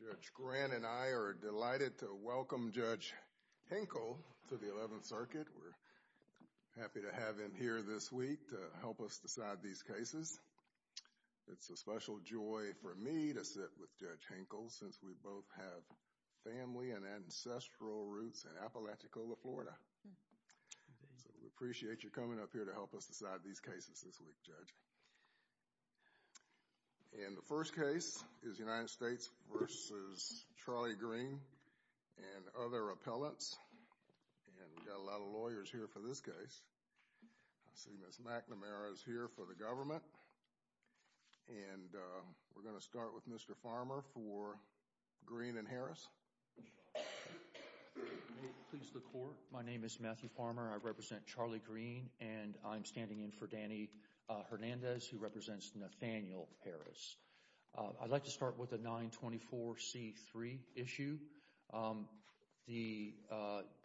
Judge Grant and I are delighted to welcome Judge Hinkle to the 11th Circuit. We're happy to have him here this week to help us decide these cases. It's a special joy for me to sit with Judge Hinkle since we both have family and ancestral roots in Apalachicola, Florida. We appreciate you coming up here to help us decide these cases this week, Judge. And the first case is United States v. Charlie Green and other appellates. And we've got a lot of lawyers here for this case. I see Ms. McNamara is here for the government. And we're going to start with Mr. Farmer for Green and Harris. My name is Matthew Farmer. I represent Charlie Green. And I'm standing in for Danny Hernandez who represents Nathaniel Harris. I'd like to start with the 924C3 issue. The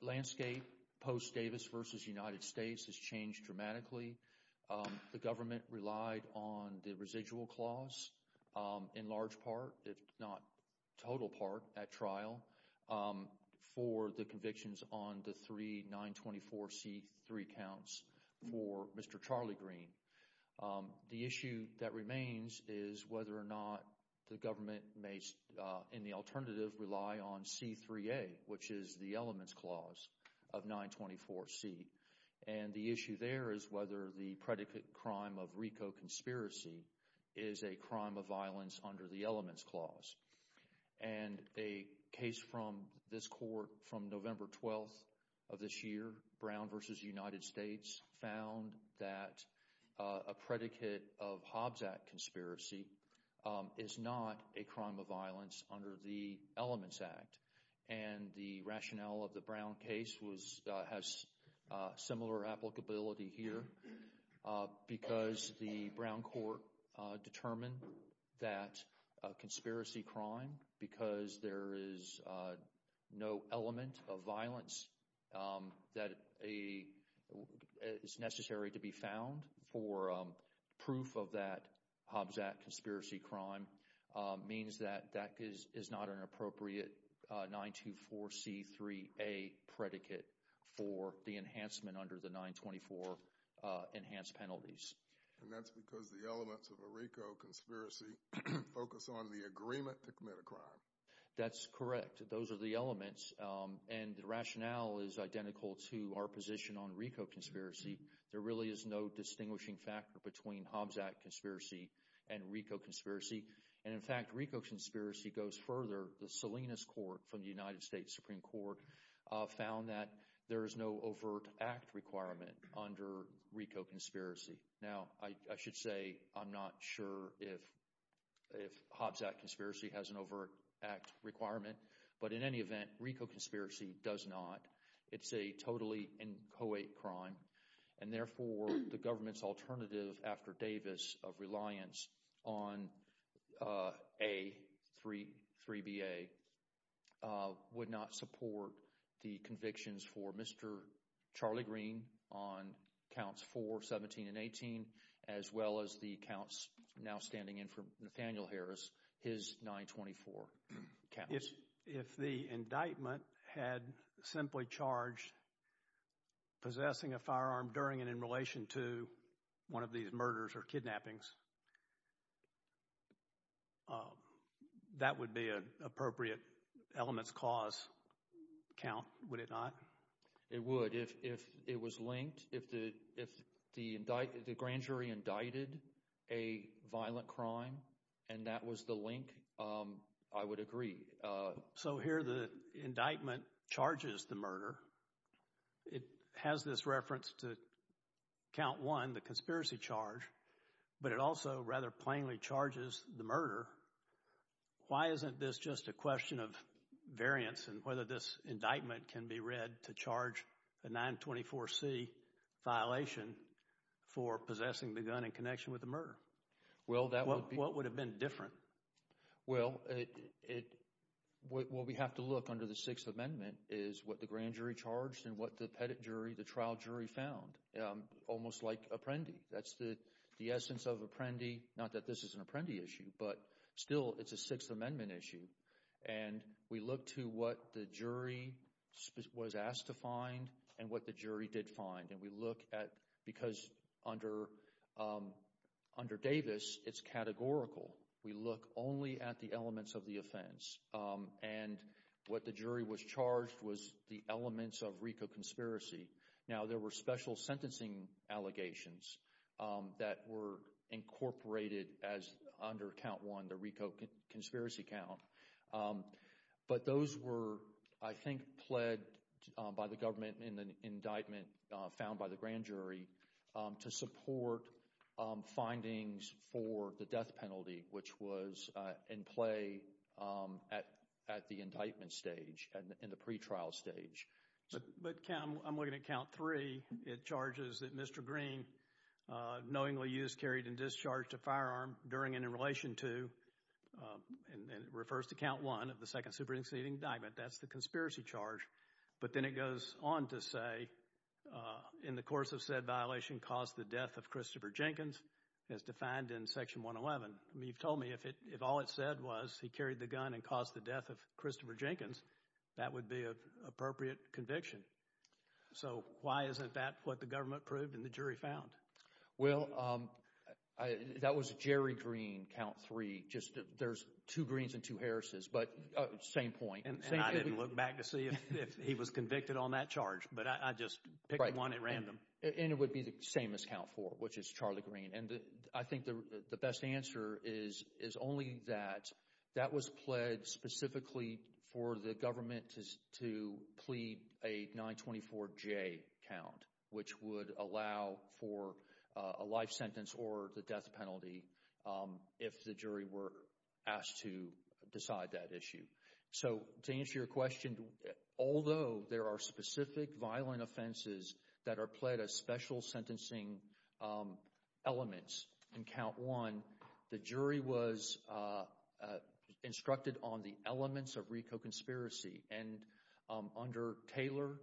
landscape post-Davis v. United States has changed dramatically. The government relied on the residual clause in large part, if not total part, at trial for the convictions on the three 924C3 counts for Mr. Charlie Green. The issue that remains is whether or not the government may, in the alternative, rely on C3A, which is the elements clause of 924C. And the issue there is whether the predicate crime of RICO conspiracy is a crime of violence under the elements clause. And a case from this court from November 12th of this year, Brown v. United States, found that a predicate of Hobbs Act conspiracy is not a crime of violence under the Elements Act. And the rationale of the Brown case has similar applicability here because the Brown court determined that a conspiracy crime, because there is no element of violence that is necessary to be found for proof of that Hobbs Act conspiracy crime, means that that is not an appropriate 924C3A predicate for the enhancement under the 924 enhanced penalties. And that's because the elements of a RICO conspiracy focus on the agreement to commit a crime. That's correct. Those are the elements. And the rationale is identical to our position on RICO conspiracy. There really is no distinguishing factor between Hobbs Act conspiracy and RICO conspiracy. And in fact, RICO conspiracy goes further. The Salinas court from the United States Supreme Court found that there is no overt act requirement under RICO conspiracy. Now I should say I'm not sure if Hobbs Act conspiracy has an overt act requirement, but in any event, RICO conspiracy does not. It's a totally inchoate crime, and therefore the government's alternative after Davis of reliance on A33BA would not support the convictions for Mr. Charlie Green on counts 4, 17, and 18 as well as the counts now standing in for Nathaniel Harris, his 924 counts. If the indictment had simply charged possessing a firearm during and in relation to one of these murders or kidnappings, that would be an appropriate elements cause count, would it not? It would. If it was linked, if the grand jury indicted a violent crime and that was the link, I would agree. So here the indictment charges the murder. It has this reference to count one, the conspiracy charge, but it also rather plainly charges the murder. Why isn't this just a question of variance and whether this indictment can be read to charge a 924C violation for possessing the gun in connection with the murder? What would have been different? Well, what we have to look under the Sixth Amendment is what the grand jury charged and what the trial jury found, almost like Apprendi. That's the essence of Apprendi, not that this is an Apprendi issue, but still it's a Sixth Amendment issue. And we look to what the jury was asked to find and what the jury did find. And we look at, because under Davis, it's categorical. We look only at the elements of the offense. And what the jury was charged was the elements of RICO conspiracy. Now, there were special sentencing allegations that were incorporated as under count one, the RICO conspiracy count. But those were, I think, pled by the government in the indictment found by the grand jury to support findings for the death penalty, which was in play at the indictment stage, in the pretrial stage. But I'm looking at count three. It charges that Mr. Green knowingly used, carried, and discharged a firearm during and in relation to, and it refers to count one of the Second Supreme Seating Indictment. That's the conspiracy charge. But then it goes on to say, in the course of said violation caused the death of Christopher Jenkins, as defined in Section 111. He told me if all it said was he carried the gun and caused the death of Christopher Jenkins, that would be an appropriate conviction. So why isn't that what the government proved and the jury found? Well, that was Jerry Green, count three. There's two Greens and two Harrises, but same point. And I didn't look back to see if he was convicted on that charge, but I just picked one at random. And it would be the same as count four, which is Charlie Green. And I think the best answer is only that that was pled specifically for the government to plead a 924J count, which would allow for a life sentence or the death penalty if the jury were asked to decide that issue. So to answer your question, although there are specific violent offenses that are pled as special sentencing elements in count one, the jury was instructed on the elements of RICO conspiracy. And under Taylor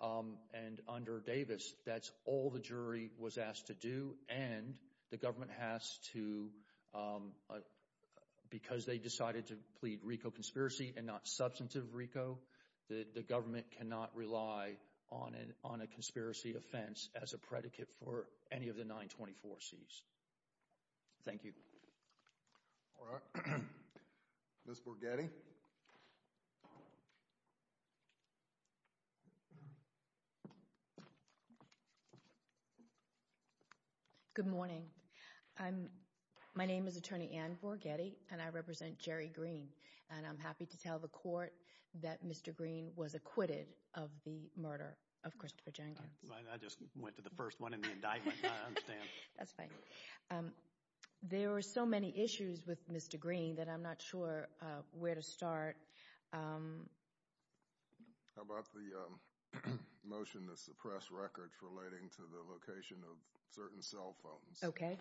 and under Davis, that's all the jury was asked to do. And the government has to, because they decided to plead RICO conspiracy and not substantive RICO, the government cannot rely on a conspiracy offense as a predicate for any of the 924Cs. Thank you. All right. Ms. Borghetti. Good morning. My name is Attorney Ann Borghetti, and I represent Jerry Green. And I'm happy to tell the court that Mr. Green was acquitted of the murder of Christopher Jenkins. I just went to the first one in the indictment, I understand. That's fine. There were so many issues with Mr. Green that I'm not sure where to start. How about the motion to suppress records relating to the location of certain cell phones? Okay.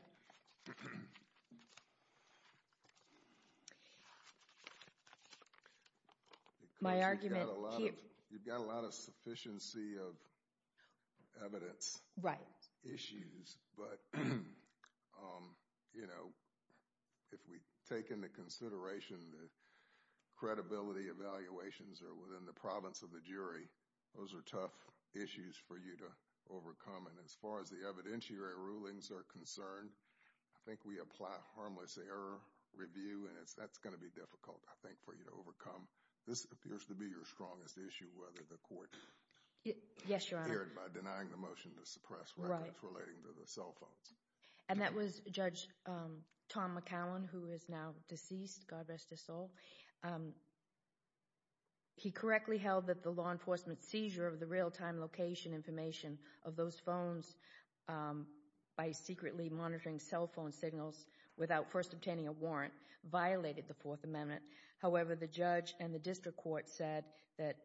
My argument here… You've got a lot of sufficiency of evidence… Right. But, you know, if we take into consideration the credibility evaluations that are within the province of the jury, those are tough issues for you to overcome. And as far as the evidentiary rulings are concerned, I think we apply harmless error review, and that's going to be difficult, I think, for you to overcome. This appears to be your strongest issue, whether the court… Yes, Your Honor. …declared by denying the motion to suppress records relating to the cell phones. And that was Judge Tom McCown, who is now deceased, God rest his soul. He correctly held that the law enforcement seizure of the real-time location information of those phones by secretly monitoring cell phone signals without first obtaining a warrant violated the Fourth Amendment. However, the judge and the district court said that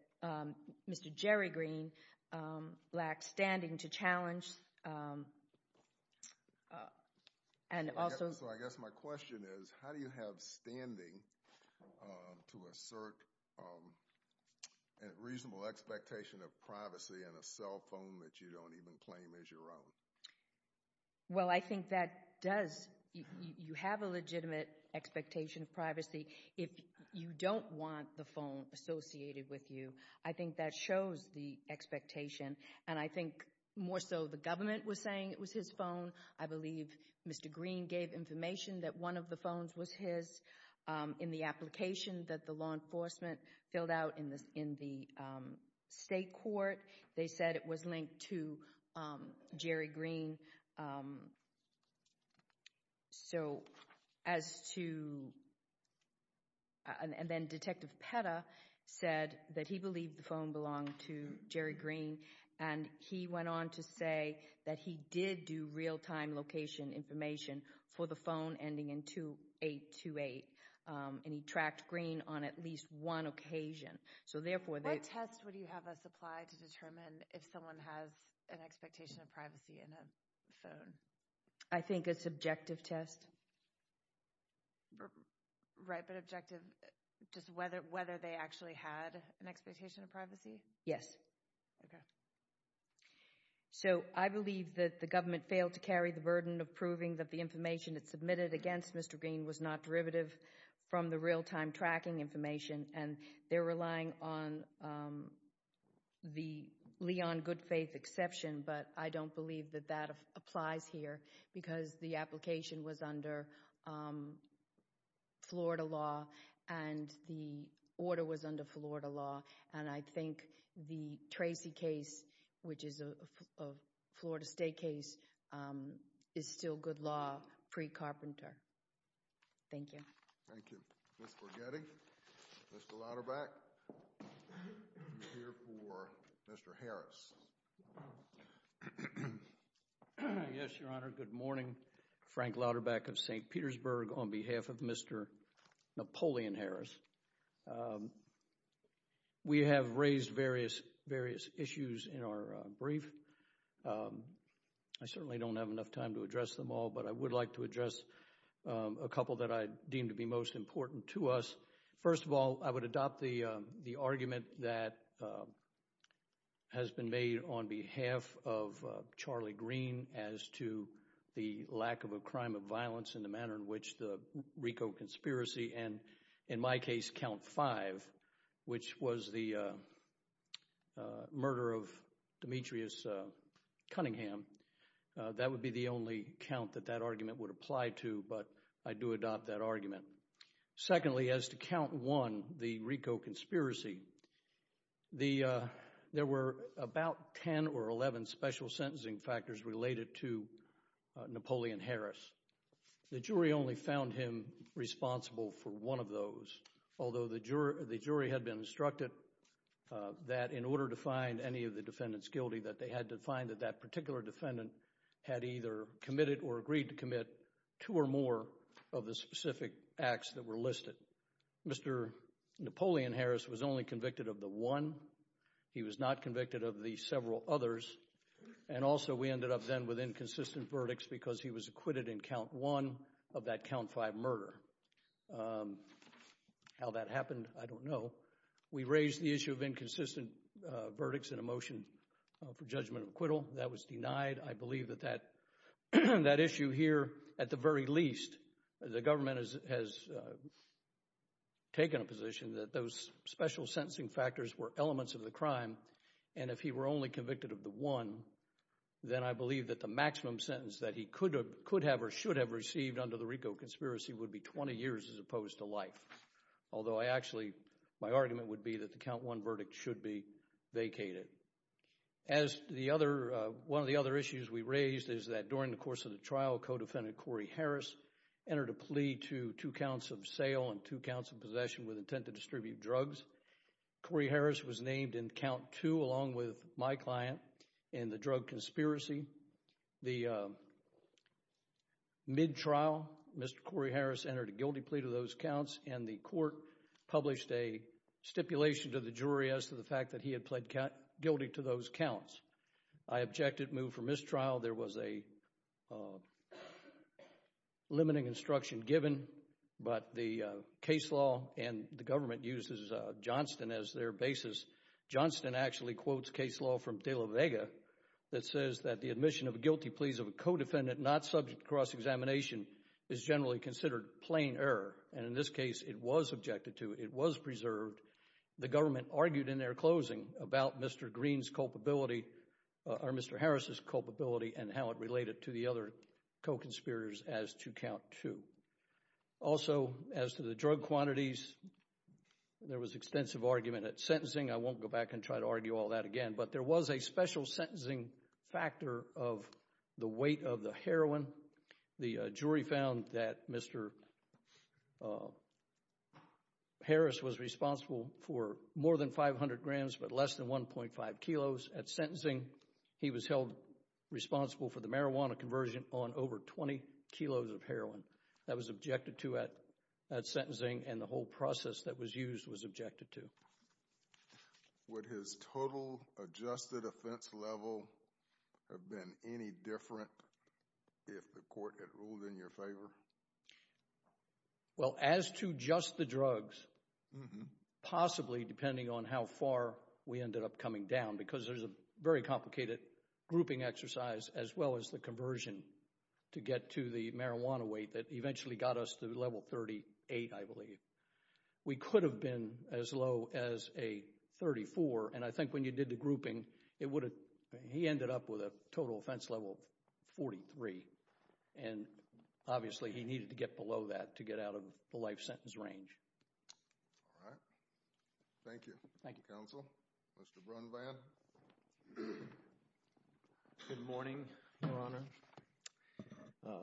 Mr. Jerry Green lacked standing to challenge and also… So, I guess my question is, how do you have standing to assert a reasonable expectation of privacy in a cell phone that you don't even claim is your own? Well, I think that does…you have a legitimate expectation of privacy if you don't want the phone associated with you. I think that shows the expectation, and I think more so the government was saying it was his phone. I believe Mr. Green gave information that one of the phones was his. In the application that the law enforcement filled out in the state court, they said it was linked to Jerry Green. So, as to…and then Detective Petta said that he believed the phone belonged to Jerry Green, and he went on to say that he did do real-time location information for the phone ending in 2828, and he tracked Green on at least one occasion. So, therefore, they… What test would you have us apply to determine if someone has an expectation of privacy in a phone? I think it's objective test. Right, but objective…just whether they actually had an expectation of privacy? Yes. Okay. So, I believe that the government failed to carry the burden of proving that the information that's submitted against Mr. Green was not derivative from the real-time tracking information, and they're relying on the Leon Goodfaith exception, but I don't believe that that applies here because the application was under Florida law and the order was under Florida law. And I think the Tracy case, which is a Florida State case, is still good law pre-Carpenter. Thank you. Thank you. Before getting Mr. Louderback, we're here for Mr. Harris. Yes, Your Honor. Good morning. Frank Louderback of St. Petersburg on behalf of Mr. Napoleon Harris. We have raised various issues in our brief. I certainly don't have enough time to address them all, but I would like to address a couple that I deem to be most important to us. First of all, I would adopt the argument that has been made on behalf of Charlie Green as to the lack of a crime of violence in the manner in which the RICO conspiracy and, in my case, Count 5, which was the murder of Demetrius Cunningham. That would be the only count that that argument would apply to, but I do adopt that argument. Secondly, as to Count 1, the RICO conspiracy, there were about 10 or 11 special sentencing factors related to Napoleon Harris. The jury only found him responsible for one of those, although the jury had been instructed that in order to find any of the defendants guilty, that they had to find that that particular defendant had either committed or agreed to commit two or more of the specific acts that were listed. Mr. Napoleon Harris was only convicted of the one. He was not convicted of the several others. And also, we ended up then with inconsistent verdicts because he was acquitted in Count 1 of that Count 5 murder. How that happened, I don't know. We raised the issue of inconsistent verdicts in a motion for judgment acquittal. That was denied. I believe that that issue here, at the very least, the government has taken a position that those special sentencing factors were elements of the crime. And if he were only convicted of the one, then I believe that the maximum sentence that he could have or should have received under the RICO conspiracy would be 20 years as opposed to life. Although, actually, my argument would be that the Count 1 verdict should be vacated. One of the other issues we raised is that during the course of the trial, co-defendant Corey Harris entered a plea to two counts of sale and two counts of possession with intent to distribute drugs. Corey Harris was named in Count 2 along with my client in the drug conspiracy. The mid-trial, Mr. Corey Harris entered a guilty plea to those counts, and the court published a stipulation to the jury as to the fact that he had pled guilty to those counts. I objected, moved for mistrial. There was a limiting instruction given, but the case law and the government uses Johnston as their basis. Johnston actually quotes case law from De La Vega that says that the admission of guilty pleas of a co-defendant not subject to cross-examination is generally considered plain error. And in this case, it was objected to. It was preserved. The government argued in their closing about Mr. Green's culpability or Mr. Harris's culpability and how it related to the other co-conspirators as to Count 2. Also, as to the drug quantities, there was extensive argument at sentencing. I won't go back and try to argue all that again, but there was a special sentencing factor of the weight of the heroin. The jury found that Mr. Harris was responsible for more than 500 grams but less than 1.5 kilos. At sentencing, he was held responsible for the marijuana conversion on over 20 kilos of heroin. That was objected to at sentencing, and the whole process that was used was objected to. Would his total adjusted offense level have been any different if the court had ruled in your favor? Well, as to just the drugs, possibly depending on how far we ended up coming down, because there's a very complicated grouping exercise as well as the conversion to get to the marijuana weight that eventually got us to level 38, I believe. We could have been as low as a 34, and I think when you did the grouping, he ended up with a total offense level of 43. Obviously, he needed to get below that to get out of the life sentence range. All right. Thank you. Thank you. Counsel, Mr. Brunvan? Good morning, Your Honor.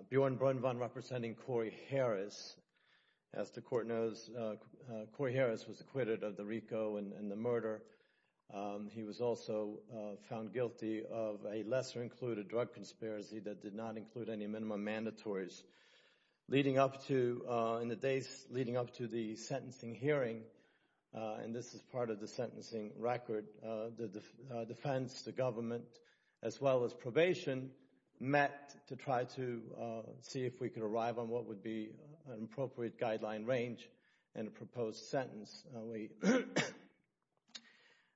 Bjorn Brunvan representing Corey Harris. As the court knows, Corey Harris was acquitted of the RICO and the murder. He was also found guilty of a lesser-included drug conspiracy that did not include any minimum mandatories. Leading up to the sentencing hearing, and this is part of the sentencing record, the defense, the government, as well as probation, met to try to see if we could arrive on what would be an appropriate guideline range and proposed sentence.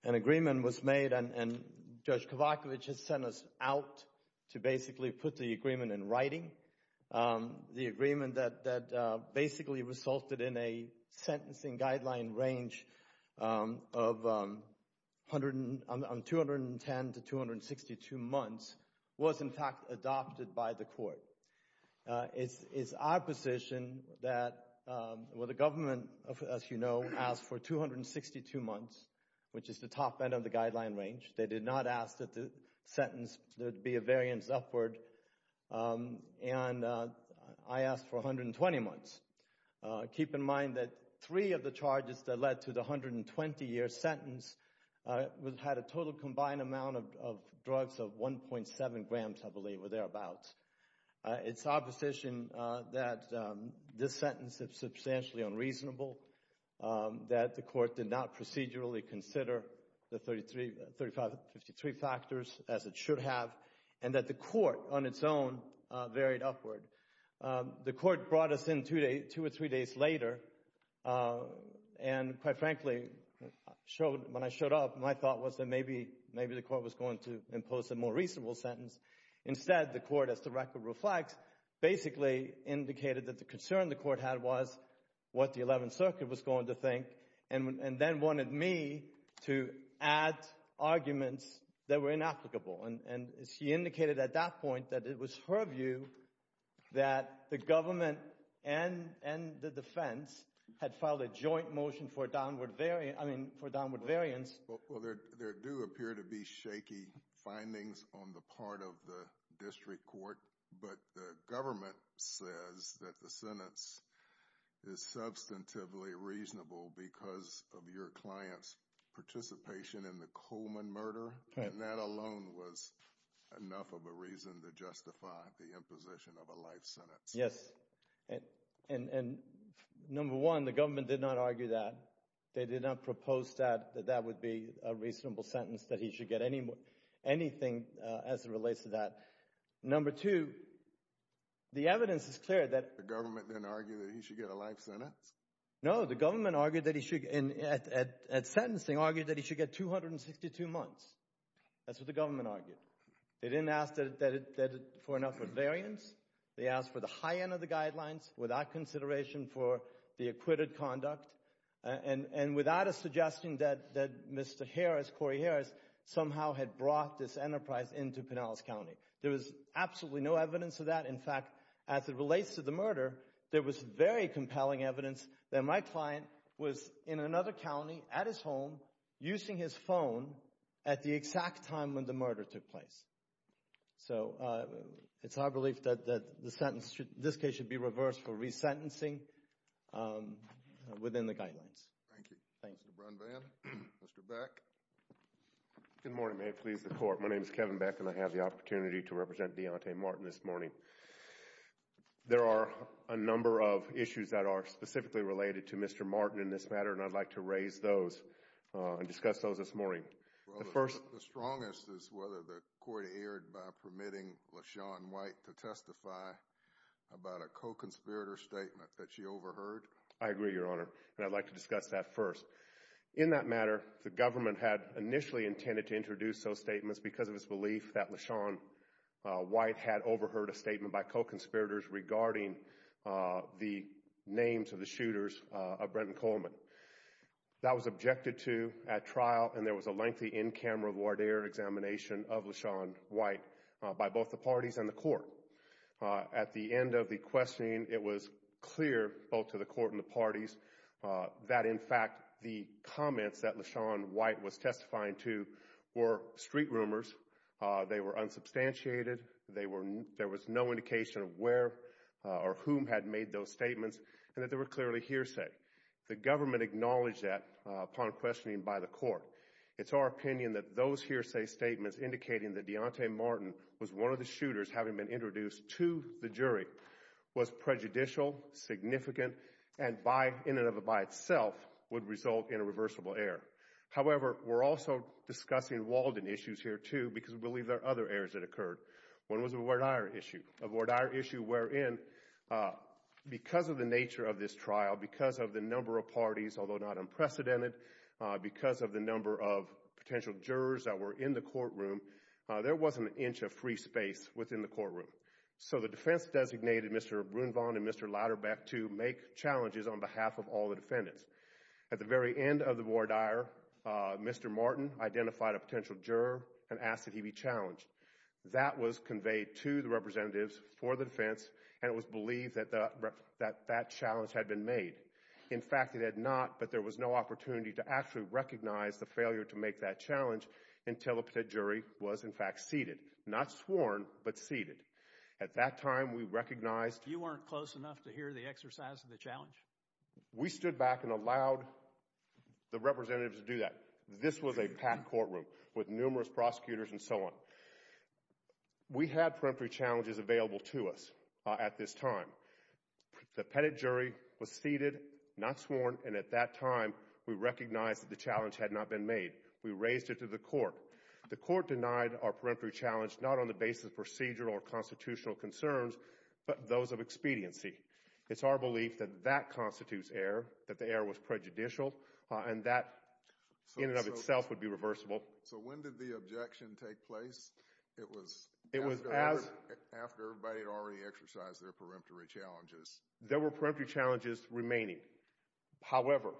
An agreement was made, and Judge Kovachevich has sent us out to basically put the agreement in writing. The agreement that basically resulted in a sentencing guideline range of 210 to 262 months was, in fact, adopted by the court. It's our position that the government, as you know, asked for 262 months, which is the top end of the guideline range. They did not ask that the sentence be a variance upward, and I asked for 120 months. Keep in mind that three of the charges that led to the 120-year sentence had a total combined amount of drugs of 1.7 grams, I believe, or thereabouts. It's our position that this sentence is substantially unreasonable, that the court did not procedurally consider the 35 to 53 factors as it should have, and that the court, on its own, varied upward. The court brought us in two or three days later, and quite frankly, when I showed up, my thought was that maybe the court was going to impose a more reasonable sentence. Instead, the court, as the record reflects, basically indicated that the concern the court had was what the 11th Circuit was going to think, and then wanted me to add arguments that were inapplicable. She indicated at that point that it was her view that the government and the defense had filed a joint motion for downward variance. There do appear to be shaky findings on the part of the district court, but the government says that the sentence is substantively reasonable because of your client's participation in the Coleman murder, and that alone was enough of a reason to justify the imposition of a life sentence. Yes, and number one, the government did not argue that. They did not propose that that would be a reasonable sentence, that he should get anything as it relates to that. Number two, the evidence is clear that— The government didn't argue that he should get a life sentence? No, the government argued that he should—at sentencing, argued that he should get 262 months. That's what the government argued. They didn't ask for an upward variance. They asked for the high end of the guidelines without consideration for the acquitted conduct, and without a suggestion that Mr. Harris, Corey Harris, somehow had brought this enterprise into Pinellas County. There was absolutely no evidence of that. In fact, as it relates to the murder, there was very compelling evidence that my client was in another county at his home using his phone at the exact time when the murder took place. So it's our belief that the sentence in this case should be reversed for resentencing within the guidelines. Thank you. Thanks, LeBron Van. Mr. Beck? Good morning. May it please the Court. My name is Kevin Beck, and I have the opportunity to represent Deontay Martin this morning. There are a number of issues that are specifically related to Mr. Martin in this matter, and I'd like to raise those and discuss those this morning. The first— The strongest is whether the court erred by permitting LaShawn White to testify about a co-conspirator statement that she overheard. I agree, Your Honor, and I'd like to discuss that first. In that matter, the government had initially intended to introduce those statements because of its belief that LaShawn White had overheard a statement by co-conspirators regarding the names of the shooters of Brenton Coleman. That was objected to at trial, and there was a lengthy in-camera voir dire examination of LaShawn White by both the parties and the court. At the end of the questioning, it was clear both to the court and the parties that, in fact, the comments that LaShawn White was testifying to were street rumors. They were unsubstantiated. There was no indication of where or whom had made those statements, and that they were clearly hearsay. The government acknowledged that upon questioning by the court. It's our opinion that those hearsay statements indicating that Deontay Martin was one of the shooters having been introduced to the jury was prejudicial, significant, and in and of itself would result in a reversible error. However, we're also discussing Walden issues here, too, because we believe there are other errors that occurred. One was a voir dire issue. Because of the nature of this trial, because of the number of parties, although not unprecedented, because of the number of potential jurors that were in the courtroom, there wasn't an inch of free space within the courtroom. So the defense designated Mr. Brunvon and Mr. Lauderbeck to make challenges on behalf of all the defendants. At the very end of the voir dire, Mr. Martin identified a potential juror and asked that he be challenged. That was conveyed to the representatives for the defense, and it was believed that that challenge had been made. In fact, it had not, but there was no opportunity to actually recognize the failure to make that challenge until the jury was, in fact, seated. Not sworn, but seated. At that time, we recognized— You weren't close enough to hear the exercise of the challenge? We stood back and allowed the representatives to do that. This was a packed courtroom with numerous prosecutors and so on. We had peremptory challenges available to us at this time. The pettit jury was seated, not sworn, and at that time, we recognized that the challenge had not been made. We raised it to the court. The court denied our peremptory challenge, not on the basis of procedural or constitutional concerns, but those of expediency. It's our belief that that constitutes error, that the error was prejudicial, and that, in and of itself, would be reversible. So when did the objection take place? It was after everybody had already exercised their peremptory challenges. There were peremptory challenges remaining. However,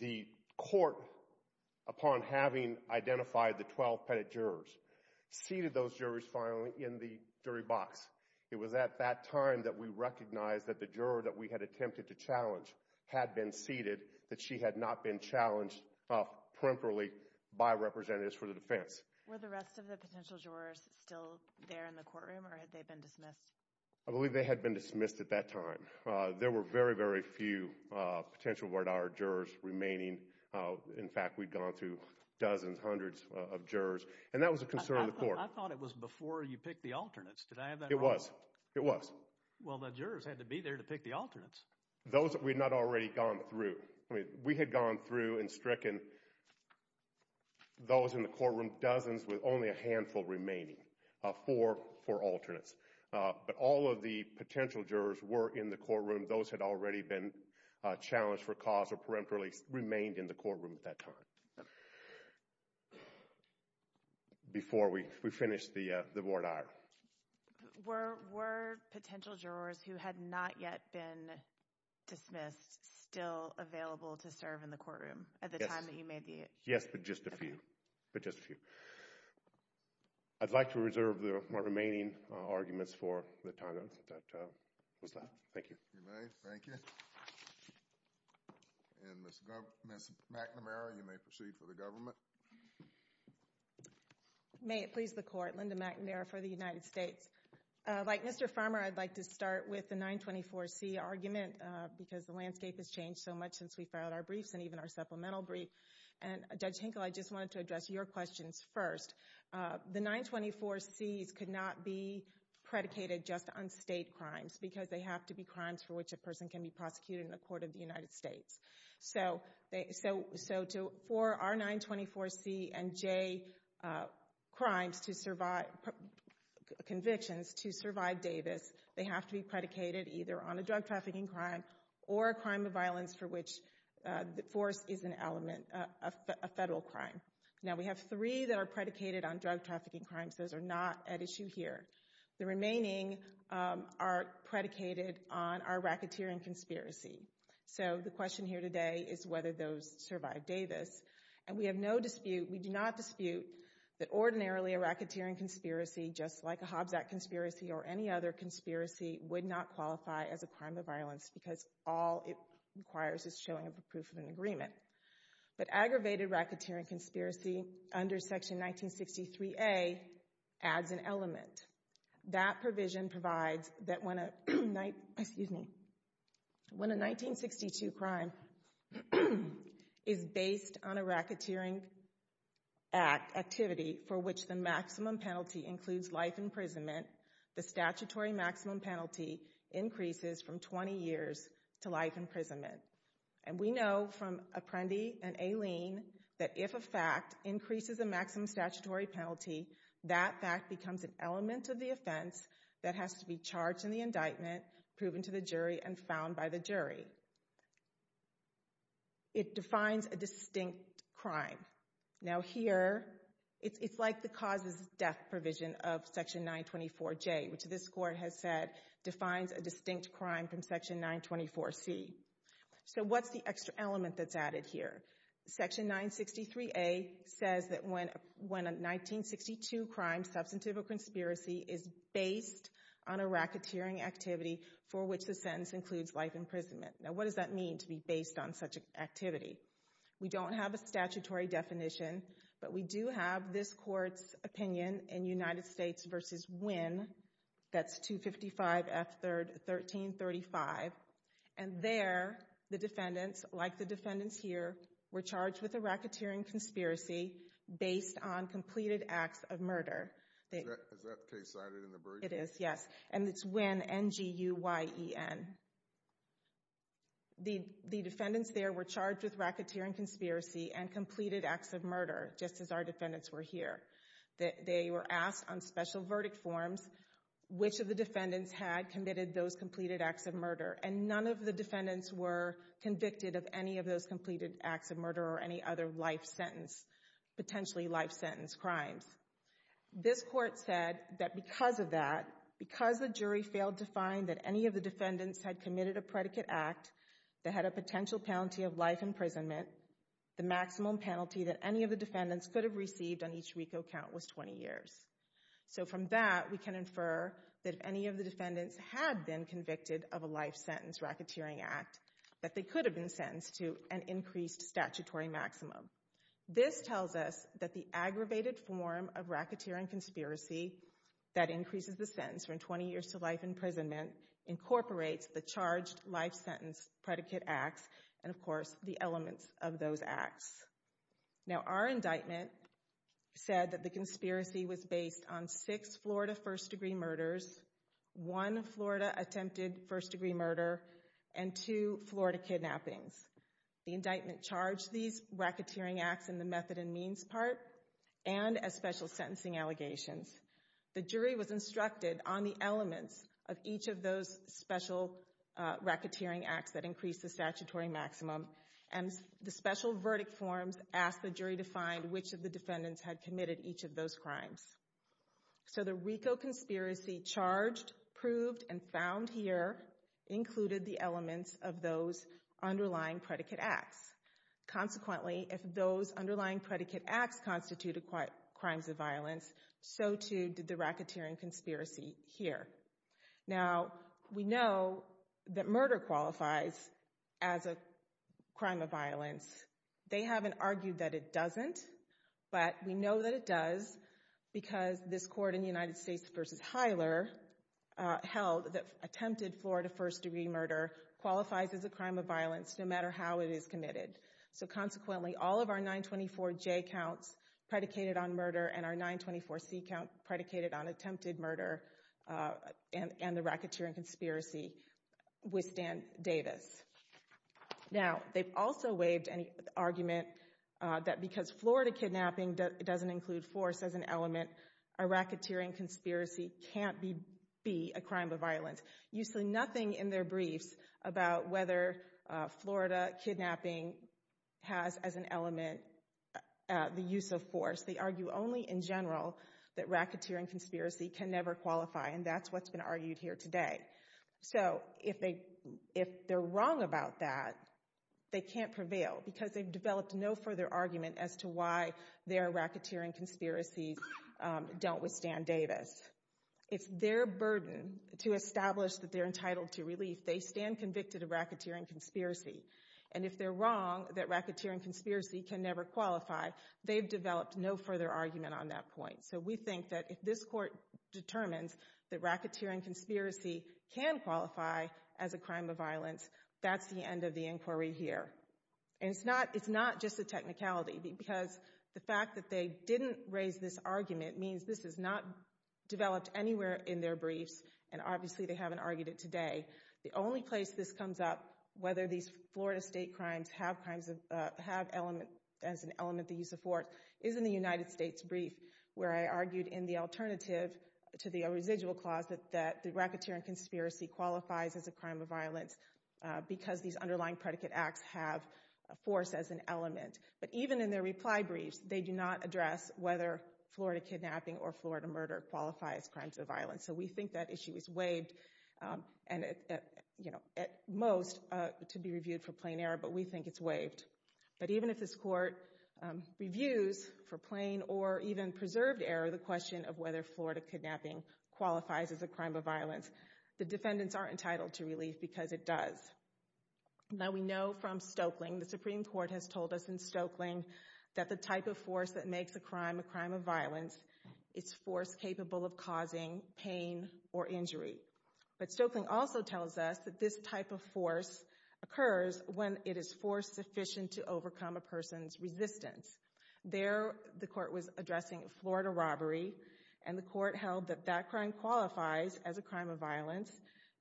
the court, upon having identified the 12 pettit jurors, seated those jurors finally in the jury box. It was at that time that we recognized that the juror that we had attempted to challenge had been seated, that she had not been challenged peremptorily by representatives for the defense. Were the rest of the potential jurors still there in the courtroom, or had they been dismissed? I believe they had been dismissed at that time. There were very, very few potential word-of-the-hour jurors remaining. In fact, we'd gone through dozens, hundreds of jurors, and that was a concern of the court. I thought it was before you picked the alternates. Did I have that wrong? It was. It was. Well, the jurors had to be there to pick the alternates. Those that we had not already gone through. We had gone through and stricken those in the courtroom dozens with only a handful remaining for alternates. But all of the potential jurors were in the courtroom. Those had already been challenged for cause or peremptorily remained in the courtroom at that time. Before we finished the word-of-the-hour. Were potential jurors who had not yet been dismissed still available to serve in the courtroom at the time that you made the issue? Yes, but just a few. But just a few. I'd like to reserve the remaining arguments for the time that was left. Thank you. You may. Thank you. And Ms. McNamara, you may proceed for the government. May it please the court. Linda McNamara for the United States. Like Mr. Farmer, I'd like to start with the 924C argument because the landscape has changed so much since we filed our briefs and even our supplemental briefs. And Judge Hinkle, I just wanted to address your questions first. The 924C could not be predicated just on state crimes because they have to be crimes for which a person can be prosecuted in the court of the United States. So for our 924C and J convictions to survive Davis, they have to be predicated either on a drug trafficking crime or a crime of violence for which the force is an element, a federal crime. Now, we have three that are predicated on drug trafficking crimes. Those are not at issue here. The remaining are predicated on our racketeering conspiracy. So the question here today is whether those survive Davis. And we have no dispute, we do not dispute, that ordinarily a racketeering conspiracy, just like a Hobjack conspiracy or any other conspiracy, would not qualify as a crime of violence because all it requires is showing a proof of an agreement. But aggravated racketeering conspiracy under Section 1963A adds an element. That provision provides that when a 1962 crime is based on a racketeering act, activity, for which the maximum penalty includes life imprisonment, the statutory maximum penalty increases from 20 years to life imprisonment. And we know from Apprendi and Aileen that if a fact increases the maximum statutory penalty, that fact becomes an element of the offense that has to be charged in the indictment, proven to the jury, and found by the jury. It defines a distinct crime. Now here, it's like the cause of death provision of Section 924J, which this Court has said defines a distinct crime from Section 924C. So what's the extra element that's added here? Section 963A says that when a 1962 crime, substantive or conspiracy, is based on a racketeering activity for which the sentence includes life imprisonment. Now what does that mean, to be based on such an activity? We don't have a statutory definition, but we do have this Court's opinion in United States v. Wynne. That's 255 F. 3rd. 1335. And there, the defendants, like the defendants here, were charged with a racketeering conspiracy based on completed acts of murder. Isn't that case cited in the brief? It is, yes. And it's Wynne, N-G-U-Y-E-N. The defendants there were charged with racketeering conspiracy and completed acts of murder, just as our defendants were here. They were asked on special verdict forms which of the defendants had committed those completed acts of murder, and none of the defendants were convicted of any of those completed acts of murder or any other life sentence, potentially life sentence crimes. This Court said that because of that, because the jury failed to find that any of the defendants had committed a predicate act that had a potential penalty of life imprisonment, the maximum penalty that any of the defendants could have received on each RICO count was 20 years. So from that, we can infer that if any of the defendants had been convicted of a life sentence racketeering act, that they could have been sentenced to an increased statutory maximum. This tells us that the aggravated form of racketeering conspiracy that increases the sentence from 20 years to life imprisonment incorporates the charged life sentence predicate acts and, of course, the elements of those acts. Now, our indictment said that the conspiracy was based on six Florida first-degree murders, one Florida attempted first-degree murder, and two Florida kidnappings. The indictment charged these racketeering acts in the method and means part and as special sentencing allegations. The jury was instructed on the elements of each of those special racketeering acts that increase the statutory maximum, and the special verdict forms asked the jury to find which of the defendants had committed each of those crimes. So the RICO conspiracy charged, proved, and found here included the elements of those underlying predicate acts. Consequently, if those underlying predicate acts constituted crimes of violence, so too did the racketeering conspiracy here. Now, we know that murder qualifies as a crime of violence. They haven't argued that it doesn't, but we know that it does because this court in the United States v. Hyler held that attempted Florida first-degree murder qualifies as a crime of violence no matter how it is committed. So consequently, all of our 924J counts predicated on murder and our 924C counts predicated on attempted murder and the racketeering conspiracy withstand data. Now, they also waived an argument that because Florida kidnapping doesn't include force as an element, a racketeering conspiracy can't be a crime of violence. You see nothing in their brief about whether Florida kidnapping has as an element the use of force. They argue only in general that racketeering conspiracy can never qualify, and that's what's been argued here today. So if they're wrong about that, they can't prevail because they've developed no further argument as to why their racketeering conspiracy dealt with Dan Davis. It's their burden to establish that they're entitled to relief. They stand convicted of racketeering conspiracy, and if they're wrong that racketeering conspiracy can never qualify, they've developed no further argument on that point. So we think that if this court determines that racketeering conspiracy can qualify as a crime of violence, that's the end of the inquiry here. And it's not just a technicality because the fact that they didn't raise this argument means this is not developed anywhere in their brief, and obviously they haven't argued it today. The only place this comes up, whether these Florida state crimes have as an element the use of force, is in the United States brief where I argued in the alternative to the residual clauses that the racketeering conspiracy qualifies as a crime of violence because these underlying predicate acts have force as an element. But even in their reply brief, they do not address whether Florida kidnapping or Florida murder qualifies as crimes of violence. So we think that issue is waived at most to be reviewed for plain error, but we think it's waived. But even if this court reviews for plain or even preserved error the question of whether Florida kidnapping qualifies as a crime of violence, the defendants aren't entitled to release because it does. Now we know from Stoeckling, the Supreme Court has told us in Stoeckling, that the type of force that makes a crime a crime of violence is force capable of causing pain or injury. But Stoeckling also tells us that this type of force occurs when it is force sufficient to overcome a person's resistance. There the court was addressing Florida robbery and the court held that that crime qualifies as a crime of violence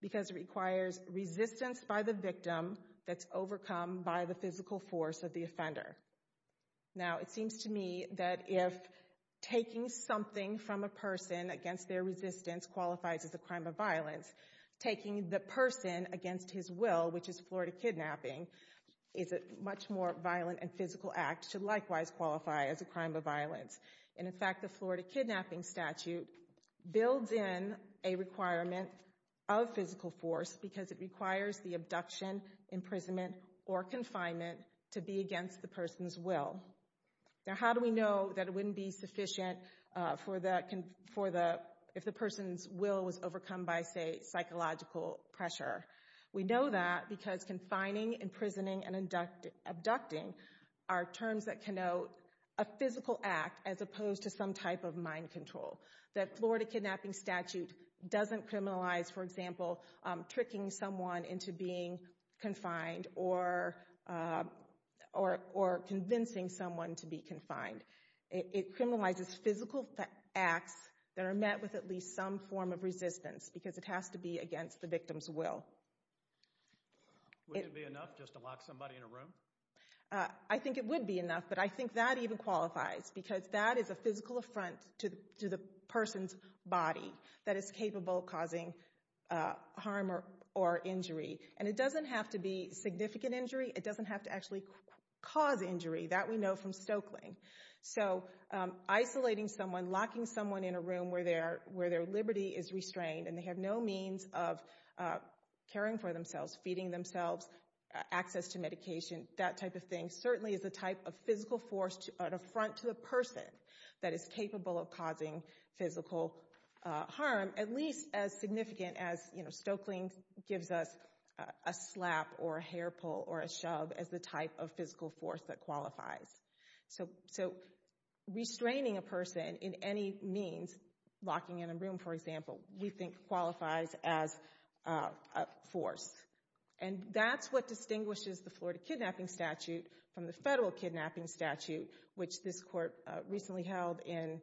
because it requires resistance by the victim that's overcome by the physical force of the offender. Now it seems to me that if taking something from a person against their resistance qualifies as a crime of violence, taking the person against his will, which is Florida kidnapping, is a much more violent and physical act, should likewise qualify as a crime of violence. And in fact the Florida kidnapping statute builds in a requirement of physical force because it requires the abduction, imprisonment, or confinement to be against the person's will. Now how do we know that it wouldn't be sufficient if the person's will was overcome by, say, psychological pressure? We know that because confining, imprisoning, and abducting are terms that connote a physical act as opposed to some type of mind control. That Florida kidnapping statute doesn't criminalize, for example, tricking someone into being confined or convincing someone to be confined. It criminalizes physical acts that are met with at least some form of resistance because it has to be against the victim's will. Would it be enough just to lock somebody in a room? I think it would be enough, but I think that even qualifies because that is a physical affront to the person's body, that it's capable of causing harm or injury. And it doesn't have to be significant injury. It doesn't have to actually cause injury. That we know from Stokeling. So isolating someone, locking someone in a room where their liberty is restrained and they have no means of caring for themselves, feeding themselves, access to medication, that type of thing, certainly is a type of physical force to affront to a person that is capable of causing physical harm, at least as significant as Stokeling gives us a slap or a hair pull or a shove as the type of physical force that qualifies. So restraining a person in any means, locking in a room, for example, we think qualifies as a force. And that's what distinguishes the Florida kidnapping statute from the federal kidnapping statute, which this court recently held in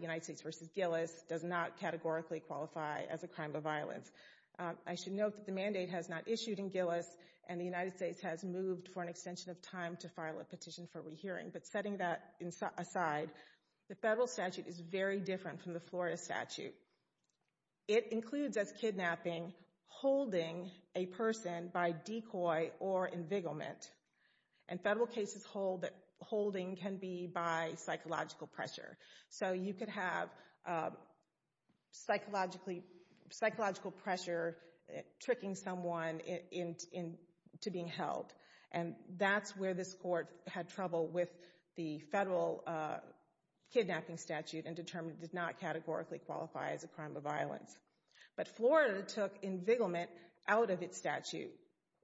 United States v. Gillis, does not categorically qualify as a crime of violence. I should note that the mandate has not issued in Gillis, and the United States has moved for an extension of time to file a petition for rehearing. But setting that aside, the federal statute is very different from the Florida statute. It includes, as kidnapping, holding a person by decoy or envigelment. And federal cases holding can be by psychological pressure. So you could have psychological pressure tricking someone into being held. And that's where this court had trouble with the federal kidnapping statute and determined it did not categorically qualify as a crime of violence. But Florida took envigelment out of its statute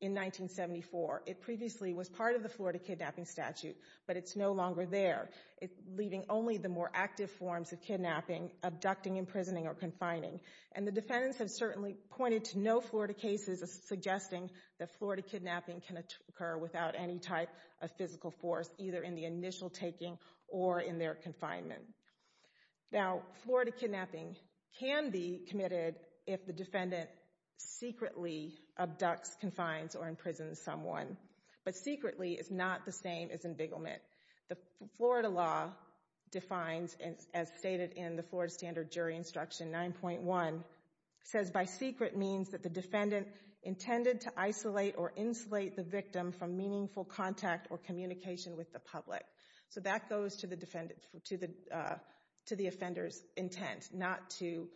in 1974. It previously was part of the Florida kidnapping statute, but it's no longer there. It's leaving only the more active forms of kidnapping, abducting, imprisoning, or confining. And the defendants have certainly pointed to no Florida cases suggesting that Florida kidnapping can occur without any type of physical force, either in the initial taking or in their confinement. Now, Florida kidnapping can be committed if the defendant secretly abducts, confines, or imprisons someone. But secretly is not the same as envigelment. The Florida law defines, as stated in the Florida standard jury instruction 9.1, says by secret means that the defendant intended to isolate or insulate the victim from meaningful contact or communication with the public. So that goes to the offender's intent, not to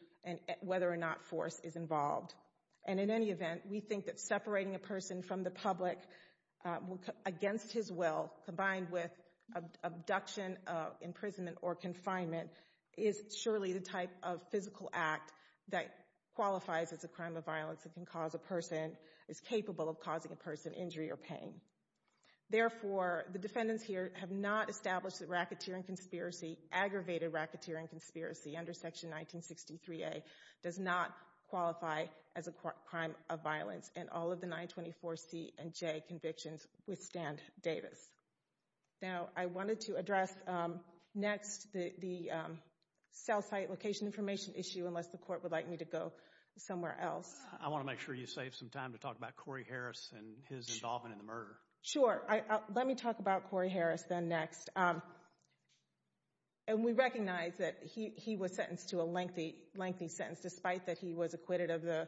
whether or not force is involved. And in any event, we think that separating a person from the public against his will, combined with abduction, imprisonment, or confinement, is surely the type of physical act that qualifies as a crime of violence and can cause a person, is capable of causing a person injury or pain. Therefore, the defendants here have not established that racketeering conspiracy, aggravated racketeering conspiracy, under Section 1963A, does not qualify as a crime of violence, and all of the 924C and J convictions withstand Davis. Now, I wanted to address next the Southside location information issue, unless the Court would like me to go somewhere else. I want to make sure you save some time to talk about Corey Harris and his involvement in the murder. Sure. Let me talk about Corey Harris then next. And we recognize that he was sentenced to a lengthy sentence, despite that he was acquitted of the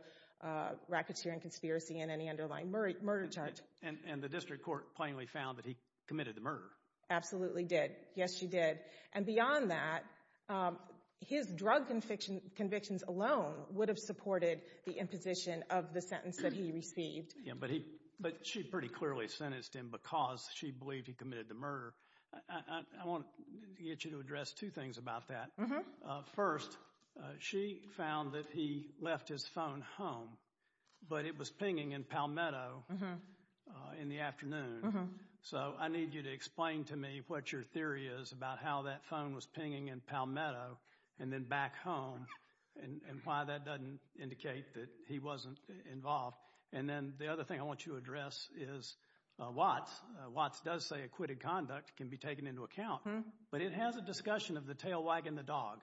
racketeering conspiracy and any underlying murder charge. And the district court plainly found that he committed the murder. Absolutely did. Yes, she did. And beyond that, his drug convictions alone would have supported the imposition of the sentence that he received. But she pretty clearly sentenced him because she believed he committed the murder. I want to get you to address two things about that. First, she found that he left his phone home, but it was pinging in Palmetto in the afternoon. So I need you to explain to me what your theory is about how that phone was pinging in Palmetto and then back home and why that doesn't indicate that he wasn't involved. And then the other thing I want you to address is Watts. Watts does say acquitted conduct can be taken into account, but it has a discussion of the tail wagging the dog.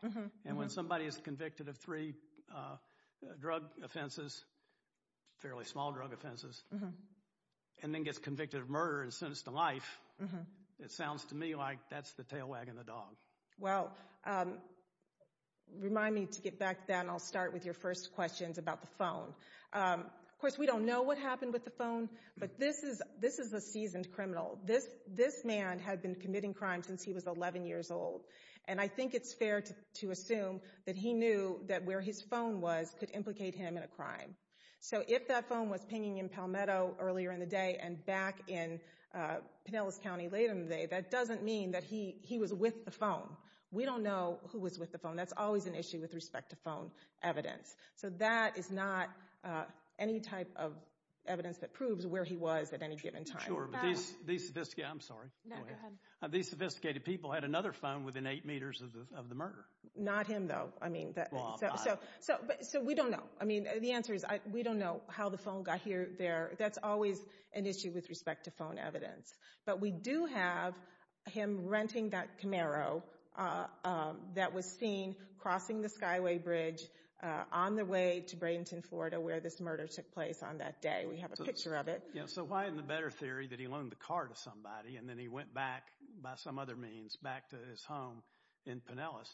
And when somebody is convicted of three drug offenses, fairly small drug offenses, and then gets convicted of murder and sentenced to life, it sounds to me like that's the tail wagging the dog. Well, remind me to get back then. I'll start with your first questions about the phone. Of course, we don't know what happened with the phone, but this is a seasoned criminal. This man has been committing crimes since he was 11 years old, and I think it's fair to assume that he knew that where his phone was could implicate him in a crime. So if that phone was pinging in Palmetto earlier in the day and back in Pinellas County later in the day, that doesn't mean that he was with the phone. We don't know who was with the phone. That's always an issue with respect to phone evidence. So that is not any type of evidence that proves where he was at any given time. These sophisticated people had another phone within eight meters of the murder. Not him, though. So we don't know. The answer is we don't know how the phone got there. That's always an issue with respect to phone evidence. But we do have him renting that Camaro that was seen crossing the Skyway Bridge on the way to Bradenton, Florida, where this murder took place on that day. We have a picture of it. So why in the better theory that he loaned the car to somebody and then he went back, by some other means, back to his home in Pinellas?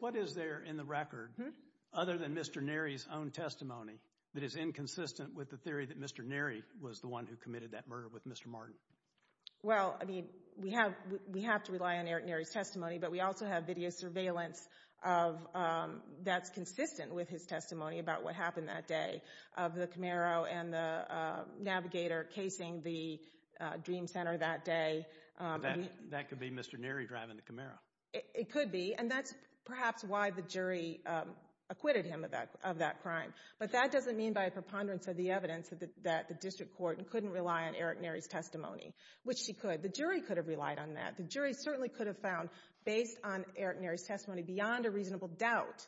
What is there in the record, other than Mr. Neri's own testimony, that is inconsistent with the theory that Mr. Neri was the one who committed that murder with Mr. Martin? Well, I mean, we have to rely on Eric Neri's testimony, but we also have video surveillance that's consistent with his testimony about what happened that day, of the Camaro and the Navigator casing the Dream Center that day. That could be Mr. Neri driving the Camaro. It could be. And that's perhaps why the jury acquitted him of that crime. But that doesn't mean by a preponderance of the evidence that the district court couldn't rely on Eric Neri's testimony, which he could. The jury could have relied on that. The jury certainly could have found, based on Eric Neri's testimony, beyond a reasonable doubt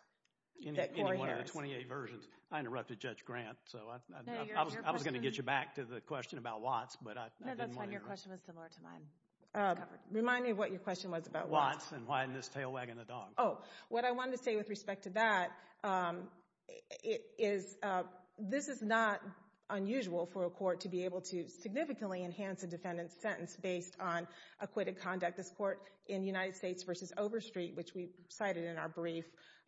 that he did. One of the 28 versions. I interrupted Judge Grant, so I was going to get you back to the question about Watts, but I didn't want to interrupt. No, that's fine. Your question was similar to mine. Remind me what your question was about Watts. Watts and why in this tail wagging the dog. Oh, what I wanted to say with respect to that is this is not unusual for a court to be able to significantly enhance a defendant's sentence based on acquitted conduct. In fact, this court in United States v. Overstreet, which we cited in our brief,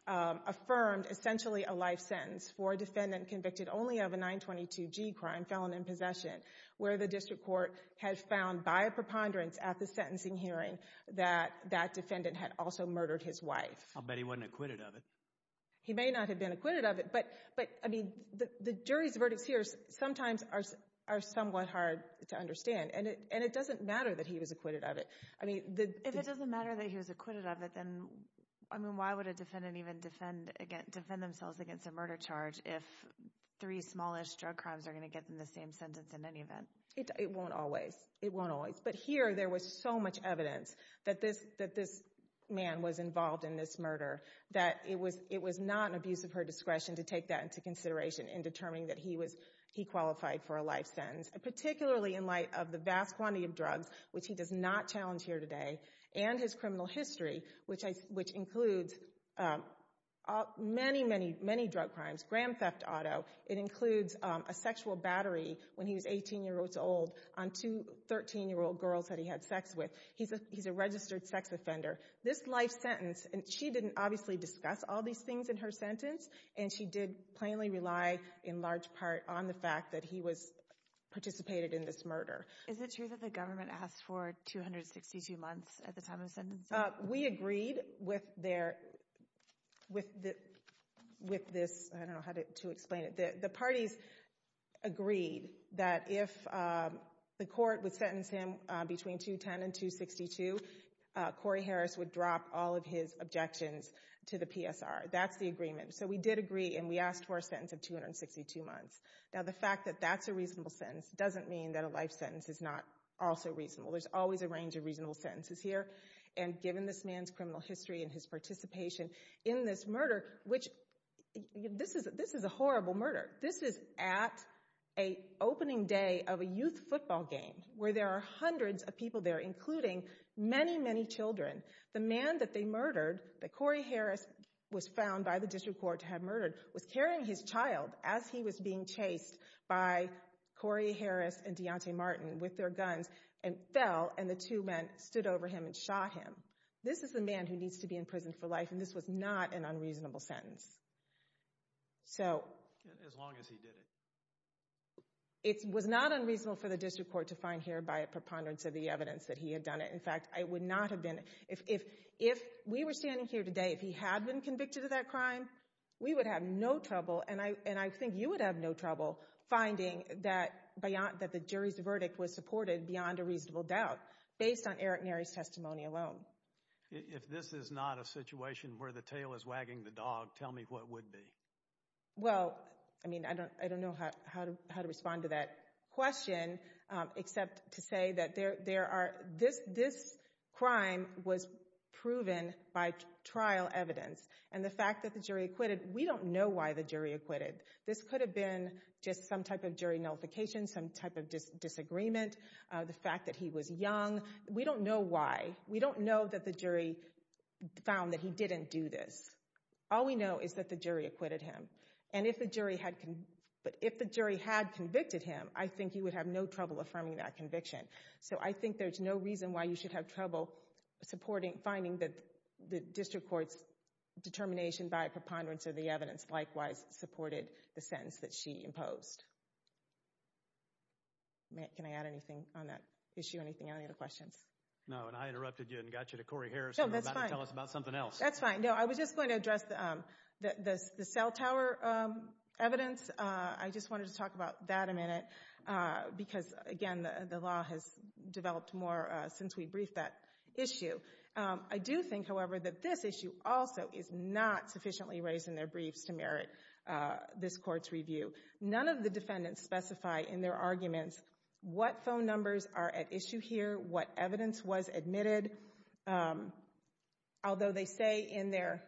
affirmed essentially a life sentence for a defendant convicted only of a 922G crime, felon in possession, where the district court has found by a preponderance at the sentencing hearing that that defendant had also murdered his wife. I'll bet he wasn't acquitted of it. He may not have been acquitted of it, but the jury's verdicts here sometimes are somewhat hard to understand. And it doesn't matter that he was acquitted of it. If it doesn't matter that he was acquitted of it, then why would a defendant even defend themselves against a murder charge if three smallish drug crimes are going to get them the same sentence in any event? It won't always. It won't always. But here, there was so much evidence that this man was involved in this murder that it was not an abuse of her discretion to take that into consideration in determining that he qualified for a life sentence, particularly in light of the vast quantity of drugs, which he does not challenge here today, and his criminal history, which includes many, many, many drug crimes. Grand theft auto. It includes a sexual battery when he was 18 years old on two 13-year-old girls that he had sex with. He's a registered sex offender. This life sentence, and she didn't obviously discuss all these things in her sentence, and she did plainly rely in large part on the fact that he participated in this murder. Is it true that the government asked for 262 months at the time of the sentence? We agreed with this. I don't know how to explain it. The parties agreed that if the court would sentence him between 210 and 262, Corey Harris would drop all of his objections to the PSR. That's the agreement. So we did agree, and we asked for a sentence of 262 months. Now the fact that that's a reasonable sentence doesn't mean that a life sentence is not also reasonable. There's always a range of reasonable sentences here, and given this man's criminal history and his participation in this murder, which this is a horrible murder. This is at an opening day of a youth football game where there are hundreds of people there, including many, many children. The man that they murdered, that Corey Harris was found by the district court to have murdered, was carrying his child as he was being chased by Corey Harris and Deontay Martin with their guns and fell, and the two men stood over him and shot him. This is a man who needs to be in prison for life, and this was not an unreasonable sentence. As long as he did it. It was not unreasonable for the district court to find here by a preponderance of the evidence that he had done it. In fact, it would not have been. If we were standing here today, if he had been convicted of that crime, we would have no trouble, and I think you would have no trouble finding that the jury's verdict was supported beyond a reasonable doubt based on Eric Neri's testimony alone. If this is not a situation where the tail is wagging the dog, tell me what would be. Well, I mean, I don't know how to respond to that question, except to say that this crime was proven by trial evidence, and the fact that the jury acquitted, we don't know why the jury acquitted. This could have been just some type of jury notification, some type of disagreement, the fact that he was young. We don't know why. We don't know that the jury found that he didn't do this. All we know is that the jury acquitted him, and if the jury had convicted him, I think he would have no trouble affirming that conviction. So I think there's no reason why you should have trouble finding that the district court's determination by a preponderance of the evidence likewise supported the sentence that she imposed. Can I add anything on that issue, anything, any other questions? No, and I interrupted you and got you to Corey Harris. No, that's fine. I'm about to tell us about something else. That's fine. No, I was just going to address the cell tower evidence. I just wanted to talk about that a minute because, again, the law has developed more since we briefed that issue. I do think, however, that this issue also is not sufficiently raised in their brief to merit this court's review. None of the defendants specify in their arguments what phone numbers are at issue here, what evidence was admitted, although they say in their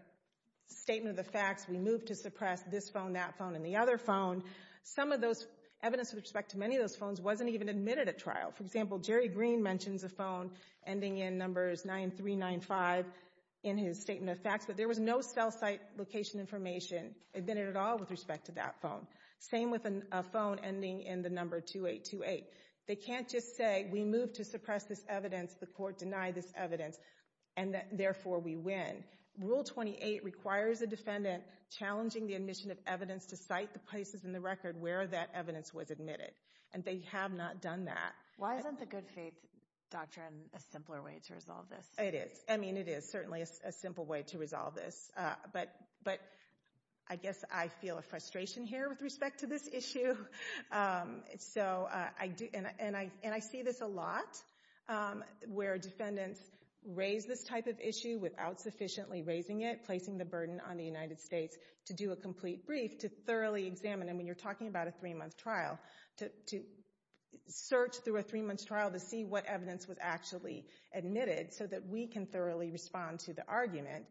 statement of facts, we move to suppress this phone, that phone, and the other phone. Some of those evidence with respect to many of those phones wasn't even admitted at trial. For example, Jerry Green mentions a phone ending in numbers 9395 in his statement of facts, but there was no cell site location information admitted at all with respect to that phone. Same with a phone ending in the number 2828. They can't just say we move to suppress this evidence, the court denied this evidence, and therefore we win. Rule 28 requires the defendant challenging the admission of evidence to cite the places in the record where that evidence was admitted, and they have not done that. Why isn't the good faith doctrine a simpler way to resolve this? It is. I mean, it is certainly a simple way to resolve this, but I guess I feel a frustration here with respect to this issue. And I see this a lot, where defendants raise this type of issue without sufficiently raising it, placing the burden on the United States to do a complete brief, to thoroughly examine, and when you're talking about a three-month trial, to search through a three-month trial to see what evidence was actually admitted so that we can thoroughly respond to the argument.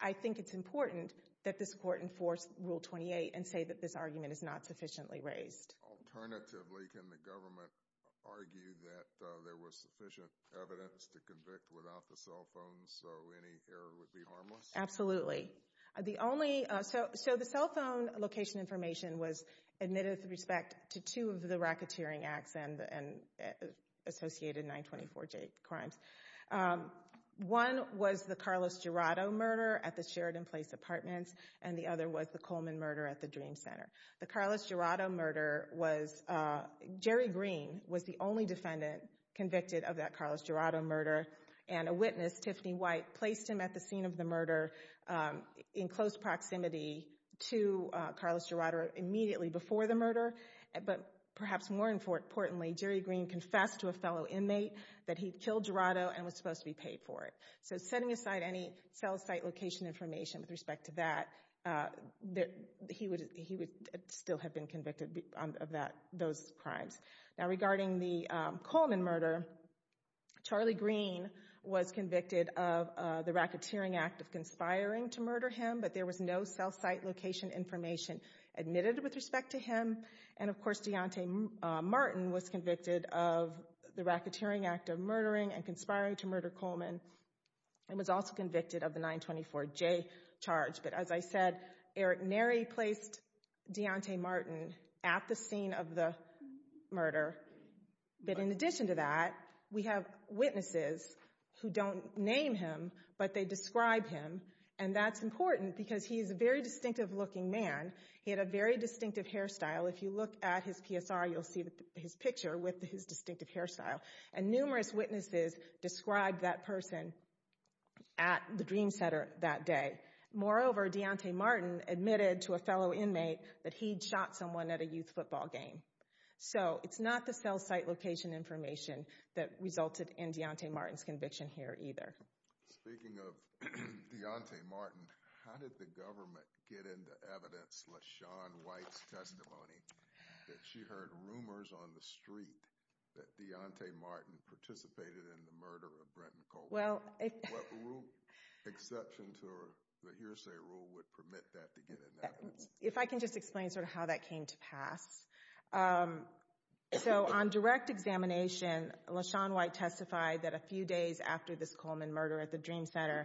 I think it's important that this court enforce Rule 28 and say that this argument is not sufficiently raised. Alternatively, can the government argue that there was sufficient evidence to convict without the cell phone, so any error would be harmless? Absolutely. So the cell phone location information was admitted with respect to two of the racketeering acts and associated 924J crimes. One was the Carlos Jurado murder at the Sheridan Place Apartments, and the other was the Coleman murder at the Dream Center. The Carlos Jurado murder was – Jerry Green was the only defendant convicted of that Carlos Jurado murder, and a witness, Tiffany White, placed him at the scene of the murder in close proximity to Carlos Jurado immediately before the murder. But perhaps more importantly, Jerry Green confessed to a fellow inmate that he'd killed Jurado and was supposed to be paid for it. So setting aside any cell site location information with respect to that, he would still have been convicted of those crimes. Now regarding the Coleman murder, Charlie Green was convicted of the racketeering act of conspiring to murder him, but there was no cell site location information admitted with respect to him. And, of course, Deontay Martin was convicted of the racketeering act of murdering and conspiring to murder Coleman and was also convicted of the 924J charge. But as I said, Eric Neri placed Deontay Martin at the scene of the murder. But in addition to that, we have witnesses who don't name him, but they describe him, and that's important because he is a very distinctive looking man. He had a very distinctive hairstyle. If you look at his PSR, you'll see his picture with his distinctive hairstyle. And numerous witnesses described that person at the Dream Center that day. Moreover, Deontay Martin admitted to a fellow inmate that he'd shot someone at a youth football game. So it's not the cell site location information that resulted in Deontay Martin's conviction here either. Thank you. Speaking of Deontay Martin, how did the government get into evidence Lashawn White's testimony that she heard rumors on the street that Deontay Martin participated in the murder of Brent McColeman? What rule, exceptions, or hearsay rule would permit that to get into evidence? If I can just explain sort of how that came to pass. So on direct examination, Lashawn White testified that a few days after this Coleman murder at the Dream Center,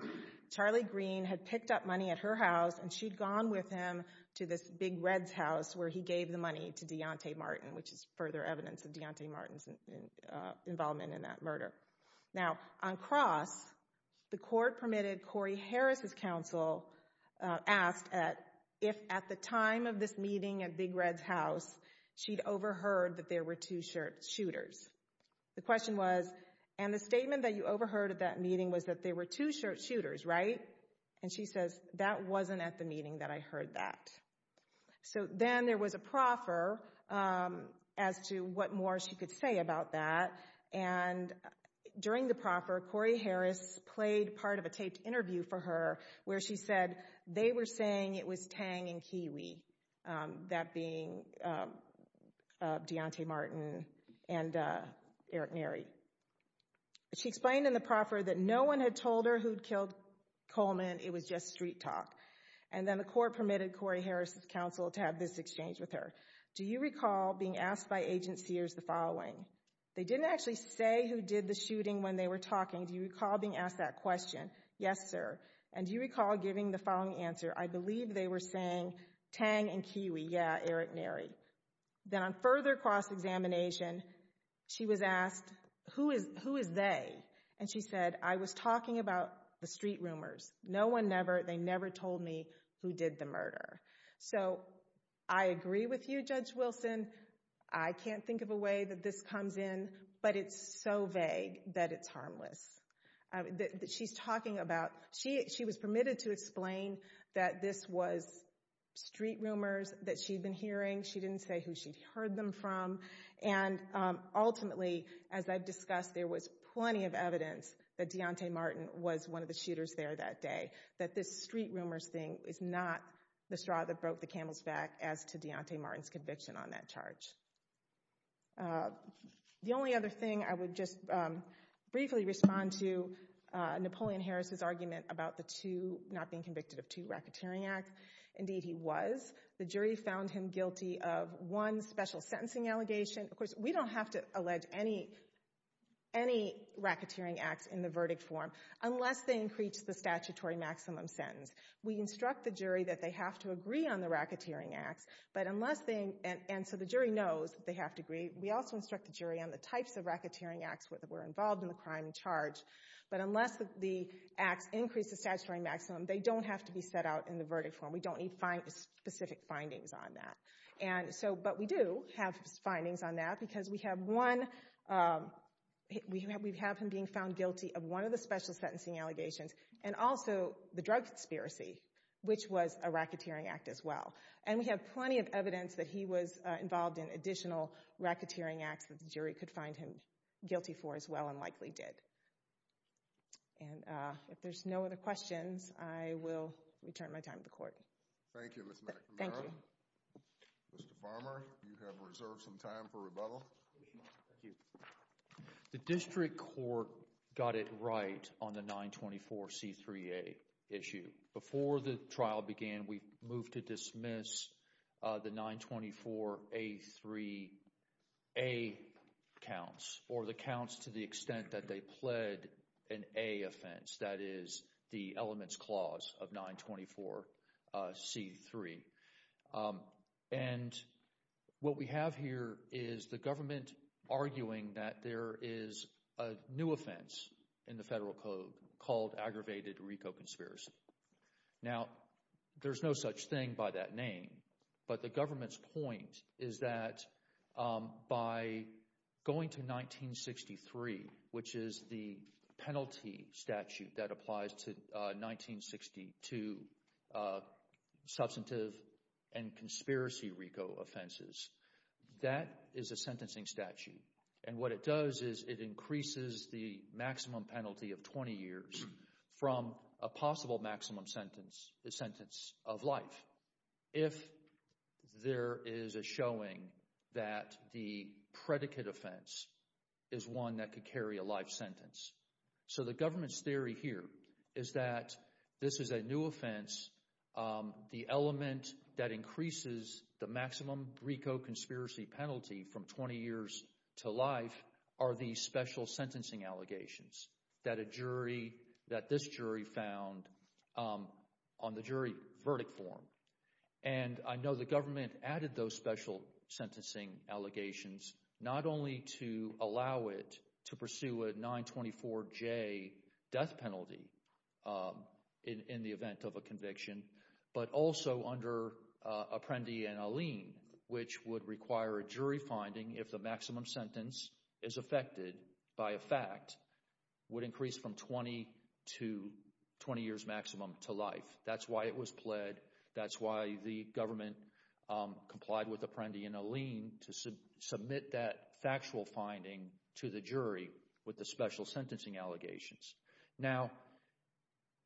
Charlie Green had picked up money at her house, and she'd gone with him to this Big Red's house where he gave the money to Deontay Martin, which is further evidence of Deontay Martin's involvement in that murder. Now, on cross, the court permitted Corey Harris' counsel asked if at the time of this meeting at Big Red's house, she'd overheard that there were two shooters. The question was, and the statement that you overheard at that meeting was that there were two shooters, right? And she says, that wasn't at the meeting that I heard that. So then there was a proffer as to what more she could say about that. And during the proffer, Corey Harris played part of a taped interview for her where she said they were saying it was Tang and Kiwi, that being Deontay Martin and Eric Mary. She explained in the proffer that no one had told her who had killed Coleman, it was just street talk. And then the court permitted Corey Harris' counsel to have this exchange with her. Do you recall being asked by agent Sears the following? They didn't actually say who did the shooting when they were talking. Do you recall being asked that question? Yes, sir. And do you recall giving the following answer? I believe they were saying Tang and Kiwi, yeah, Eric Mary. Then on further cross-examination, she was asked, who is they? And she said, I was talking about the street rumors. No one ever, they never told me who did the murder. So I agree with you, Judge Wilson. I can't think of a way that this comes in, but it's so vague that it's harmless. She's talking about, she was permitted to explain that this was street rumors that she'd been hearing. She didn't say who she'd heard them from. And ultimately, as I've discussed, there was plenty of evidence that Deontay Martin was one of the shooters there that day, that this street rumors thing is not the straw that broke the camel's back as to Deontay Martin's conviction on that charge. The only other thing, I would just briefly respond to Napoleon Harris's argument about the two, not being convicted of two racketeering acts. Indeed, he was. The jury found him guilty of one special sentencing allegation. Of course, we don't have to allege any racketeering acts in the verdict form unless they increase the statutory maximum sentence. We instruct the jury that they have to agree on the racketeering act, and so the jury knows they have to agree. We also instruct the jury on the types of racketeering acts that were involved in the crime and charged. But unless the act increases statutory maximum, they don't have to be set out in the verdict form. We don't need specific findings on that. But we do have findings on that because we have him being found guilty of one of the special sentencing allegations and also the drug conspiracy, which was a racketeering act as well. We have plenty of evidence that he was involved in additional racketeering acts that the jury could find him guilty for as well and likely did. If there's no other questions, I will return my time to the Court. Thank you, Ms. McGrath. Thank you. Mr. Farmer, you have reserved some time for rebuttal. Thank you. The District Court got it right on the 924C3A issue. Before the trial began, we moved to dismiss the 924A3A counts or the counts to the extent that they pled an A offense. That is the elements clause of 924C3. And what we have here is the government arguing that there is a new offense in the federal code called aggravated recalconspiracy. Now, there's no such thing by that name. But the government's point is that by going to 1963, which is the penalty statute that applies to 1962 substantive and conspiracy RICO offenses, that is a sentencing statute. And what it does is it increases the maximum penalty of 20 years from a possible maximum sentence, the sentence of life. If there is a showing that the predicate offense is one that could carry a life sentence. So the government's theory here is that this is a new offense. The element that increases the maximum RICO conspiracy penalty from 20 years to life are these special sentencing allegations that this jury found on the jury verdict form. And I know the government added those special sentencing allegations not only to allow it to pursue a 924J death penalty in the event of a conviction, but also under Apprendi and Allene, which would require a jury finding if the maximum sentence is affected by a fact, would increase from 20 years maximum to life. That's why it was pled. That's why the government complied with Apprendi and Allene to submit that factual finding to the jury with the special sentencing allegations. Now,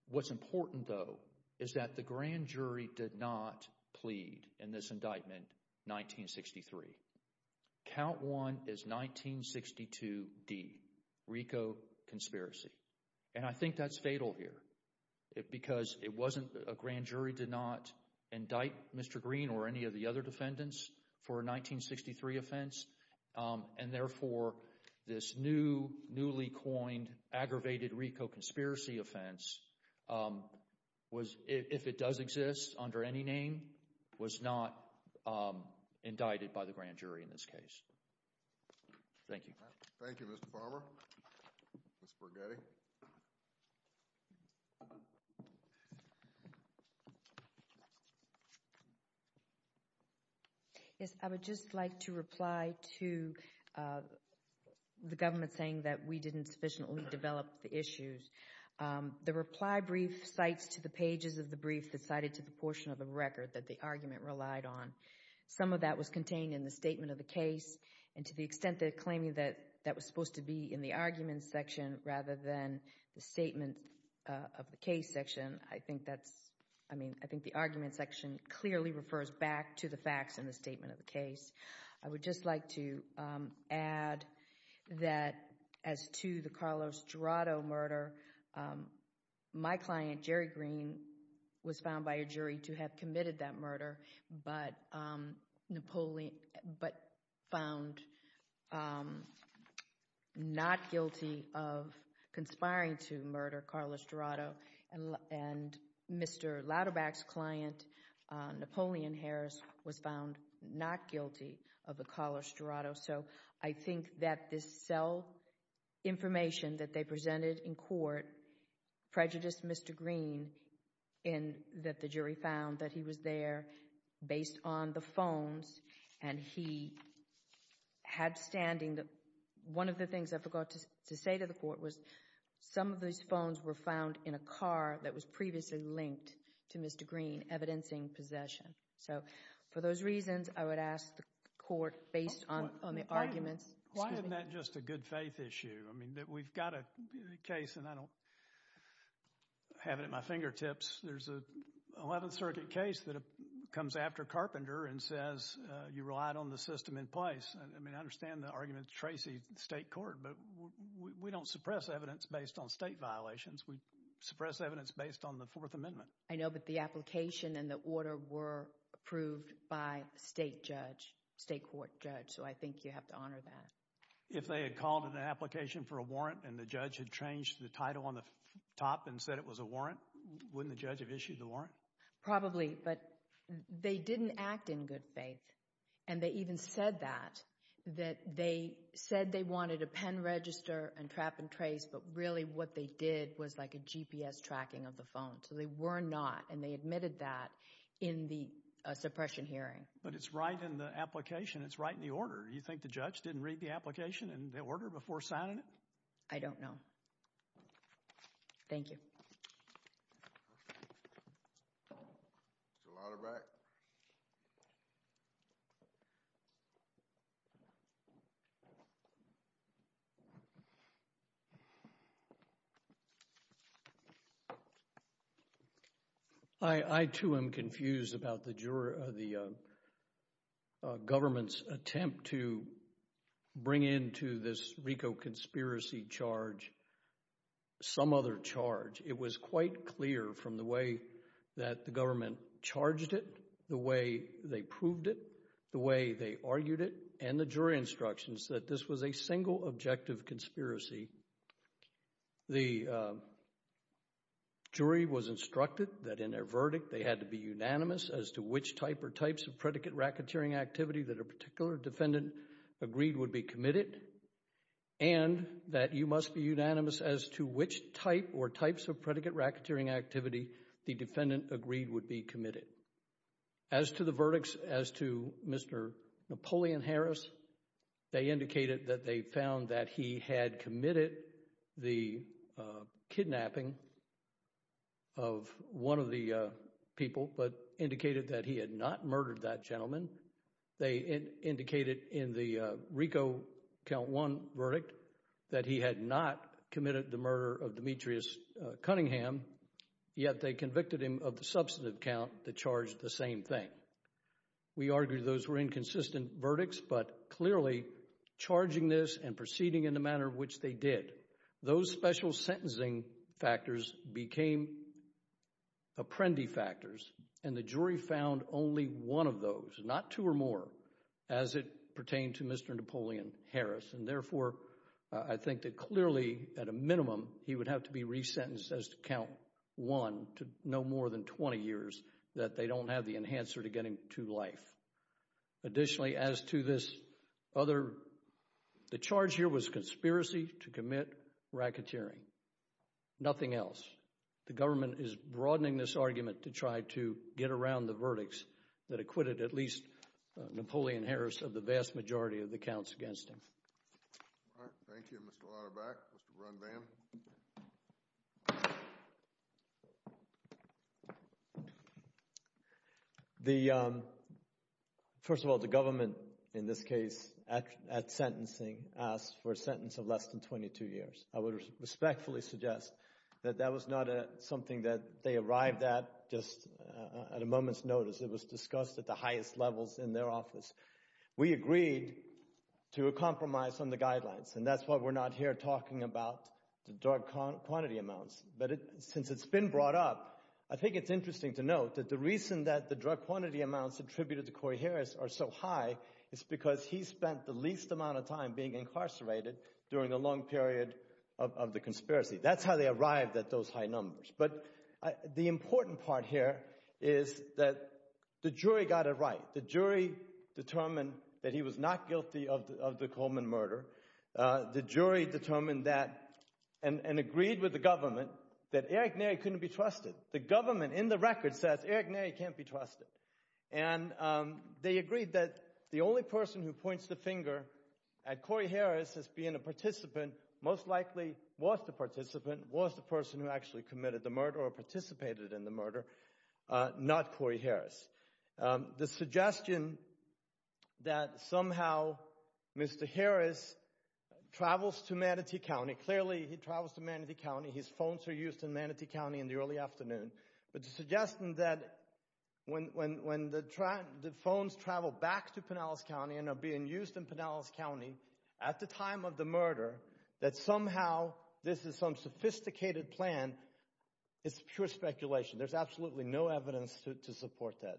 what's important though is that the grand jury did not plead in this indictment, 1963. Count one is 1962D, RICO conspiracy, and I think that's fatal here because it wasn't – a grand jury did not indict Mr. Green or any of the other defendants for a 1963 offense. And therefore, this new, newly coined, aggravated RICO conspiracy offense, if it does exist under any name, was not indicted by the grand jury in this case. Thank you. Thank you, Mr. Farmer. Ms. Borghetti. Yes, I would just like to reply to the government saying that we didn't sufficiently develop the issues. The reply brief cites to the pages of the brief that cited to the portion of the record that the argument relied on. Some of that was contained in the statement of the case, and to the extent that claiming that that was supposed to be in the argument section rather than the statement of the case section, I think that – I mean, I think the argument section clearly refers back to the facts in the statement of the case. I would just like to add that as to the Carlos Dorado murder, my client, Jerry Green, was found by a jury to have committed that murder but Napoleon – but found not guilty of conspiring to murder Carlos Dorado. And Mr. Lauterbach's client, Napoleon Harris, was found not guilty of the Carlos Dorado. So I think that this cell information that they presented in court prejudiced Mr. Green in that the jury found that he was there based on the phones, and he had standing. One of the things I forgot to say to the court was some of these phones were found in a car that was previously linked to Mr. Green, evidencing possession. So for those reasons, I would ask the court, based on the argument – Why isn't that just a good faith issue? I mean, we've got a case, and I don't have it at my fingertips. There's an 11th Circuit case that comes after Carpenter and says you relied on the system in place. I mean, I understand the argument is traced to the state court, but we don't suppress evidence based on state violations. We suppress evidence based on the Fourth Amendment. I know, but the application and the order were approved by a state judge, a state court judge, so I think you have to honor that. If they had called an application for a warrant and the judge had changed the title on the top and said it was a warrant, wouldn't the judge have issued the warrant? Probably, but they didn't act in good faith, and they even said that. They said they wanted a pen register and trap and trace, but really what they did was like a GPS tracking of the phone. So they were not, and they admitted that in the suppression hearing. But it's right in the application. It's right in the order. Do you think the judge didn't read the application and the order before signing it? I don't know. Thank you. Your Honor, back. I, too, am confused about the government's attempt to bring into this RICO conspiracy charge some other charge. It was quite clear from the way that the government charged it, the way they proved it, the way they argued it, and the jury instructions that this was a single objective conspiracy. The jury was instructed that in their verdict they had to be unanimous as to which type or types of predicate racketeering activity that a particular defendant agreed would be committed, and that you must be unanimous as to which type or types of predicate racketeering activity the defendant agreed would be committed. As to the verdicts, as to Mr. Napoleon Harris, they indicated that they found that he had committed the kidnapping of one of the people, but indicated that he had not murdered that gentleman. They indicated in the RICO Count 1 verdict that he had not committed the murder of Demetrius Cunningham, yet they convicted him of the substantive count that charged the same thing. We argued those were inconsistent verdicts, but clearly charging this and proceeding in the manner in which they did, those special sentencing factors became apprendi factors, and the jury found only one of those, not two or more, as it pertained to Mr. Napoleon Harris, and therefore I think that clearly at a minimum he would have to be resentenced as to count 1 to no more than 20 years that they don't have the enhancer to get him to life. Additionally, as to this other, the charge here was conspiracy to commit racketeering, nothing else. The government is broadening this argument to try to get around the verdicts that acquitted at least Napoleon Harris of the vast majority of the counts against him. All right, thank you. Mr. Weierbach, Mr. Brunvan. Thank you. First of all, the government in this case at sentencing asked for a sentence of less than 22 years. I would respectfully suggest that that was not something that they arrived at just at a moment's notice. It was discussed at the highest levels in their office. We agreed to a compromise on the guidelines, and that's why we're not here talking about the drug quantity amounts. But since it's been brought up, I think it's interesting to note that the reason that the drug quantity amounts attributed to Corey Harris are so high is because he spent the least amount of time being incarcerated during the long period of the conspiracy. That's how they arrived at those high numbers. But the important part here is that the jury got it right. The jury determined that he was not guilty of the Coleman murder. The jury determined that and agreed with the government that Eric Neri couldn't be trusted. The government in the record said Eric Neri can't be trusted. And they agreed that the only person who points the finger at Corey Harris as being a participant most likely was the participant, was the person who actually committed the murder or participated in the murder, not Corey Harris. The suggestion that somehow Mr. Harris travels to Manatee County, clearly he travels to Manatee County. His phones were used in Manatee County in the early afternoon. But the suggestion that when the phones travel back to Pinellas County and are being used in Pinellas County at the time of the murder, that somehow this is some sophisticated plan, it's pure speculation. There's absolutely no evidence to support that.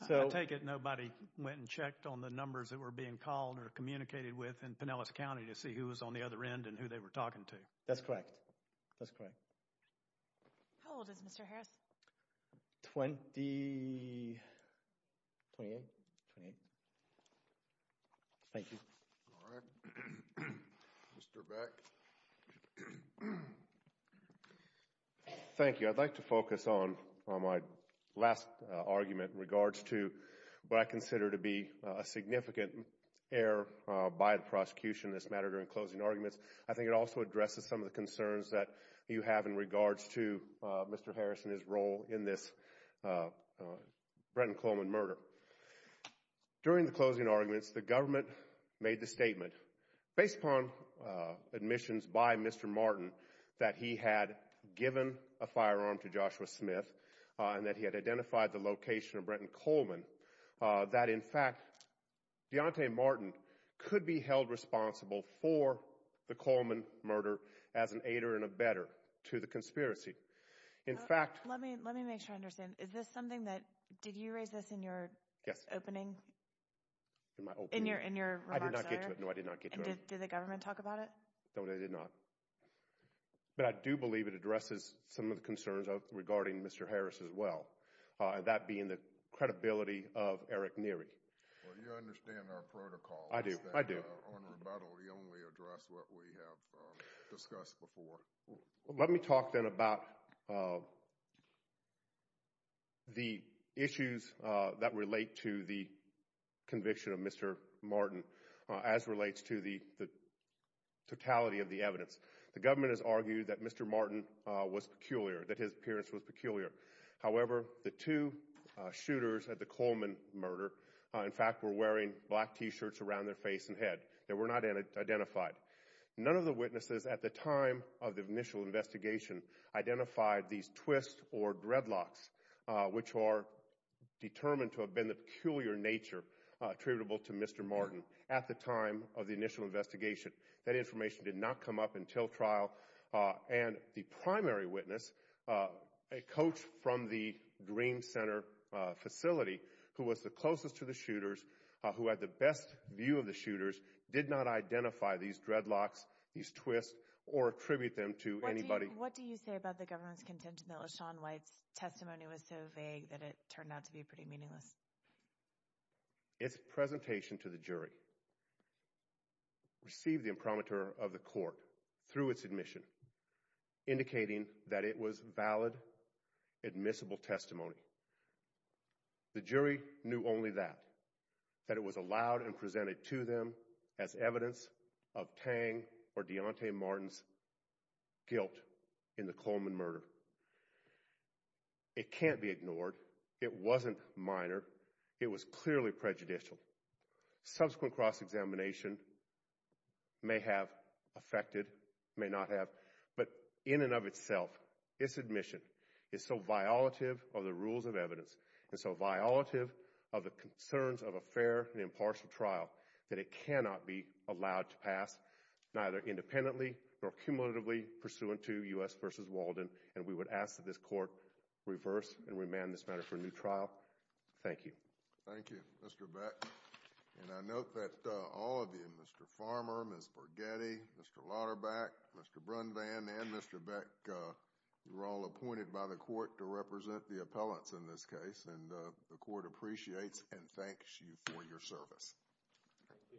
I take it nobody went and checked on the numbers that were being called or communicated with in Pinellas County to see who was on the other end and who they were talking to. That's correct. That's correct. How old is Mr. Harris? Twenty-eight. Thank you. Mr. Beck. Thank you. I'd like to focus on my last argument in regards to what I consider to be a significant error by the prosecution in this matter during closing arguments. I think it also addresses some of the concerns that you have in regards to Mr. Harris and his role in this Brennan Coleman murder. During the closing arguments, the government made the statement, based upon admissions by Mr. Martin, that he had given a firearm to Joshua Smith and that he had identified the location of Brennan Coleman, that, in fact, Deontay Martin could be held responsible for the Coleman murder as an aider and abetter to the conspiracy. Let me make sure I understand. Did you raise this in your opening? I did not get to it. Did the government talk about it? No, they did not. But I do believe it addresses some of the concerns regarding Mr. Harris as well, that being the credibility of Eric Neary. You understand our protocol. I do. We only address what we have discussed before. Let me talk then about the issues that relate to the conviction of Mr. Martin as relates to the totality of the evidence. The government has argued that Mr. Martin was peculiar, that his appearance was peculiar. However, the two shooters at the Coleman murder, in fact, were wearing black T-shirts around their face and head. They were not identified. None of the witnesses at the time of the initial investigation identified these twists or dreadlocks, which are determined to have been the peculiar nature attributable to Mr. Martin at the time of the initial investigation. That information did not come up until trial. And the primary witness, a coach from the Green Center facility, who was the closest to the shooters, who had the best view of the shooters, did not identify these dreadlocks, these twists, or attribute them to anybody. What do you say about the government's contention that LaShawn White's testimony was so vague that it turned out to be pretty meaningless? Its presentation to the jury received the imprimatur of the court through its admission, indicating that it was valid, admissible testimony. The jury knew only that, that it was allowed and presented to them as evidence of Tang or Deontay Martin's guilt in the Coleman murder. It can't be ignored. It wasn't minor. It was clearly prejudicial. Subsequent cross-examination may have affected, may not have, but in and of itself, its admission is so violative of the rules of evidence and so violative of the concerns of a fair and impartial trial that it cannot be allowed to pass, neither independently nor cumulatively, pursuant to U.S. v. Walden. And we would ask that this court reverse and remand this matter to a new trial. Thank you. Thank you, Mr. Beck. And I note that all of you, Mr. Farmer, Ms. Borghetti, Mr. Lauterbach, Mr. Brunvan, and Mr. Beck, you're all appointed by the court to represent the appellants in this case. And the court appreciates and thanks you for your service. Thank you. Good.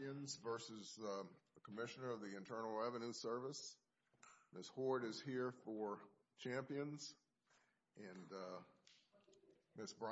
Champions v. Commissioner of the Internal Revenue Service. Ms. Hoard is here for Champions. And Ms. Brunvan.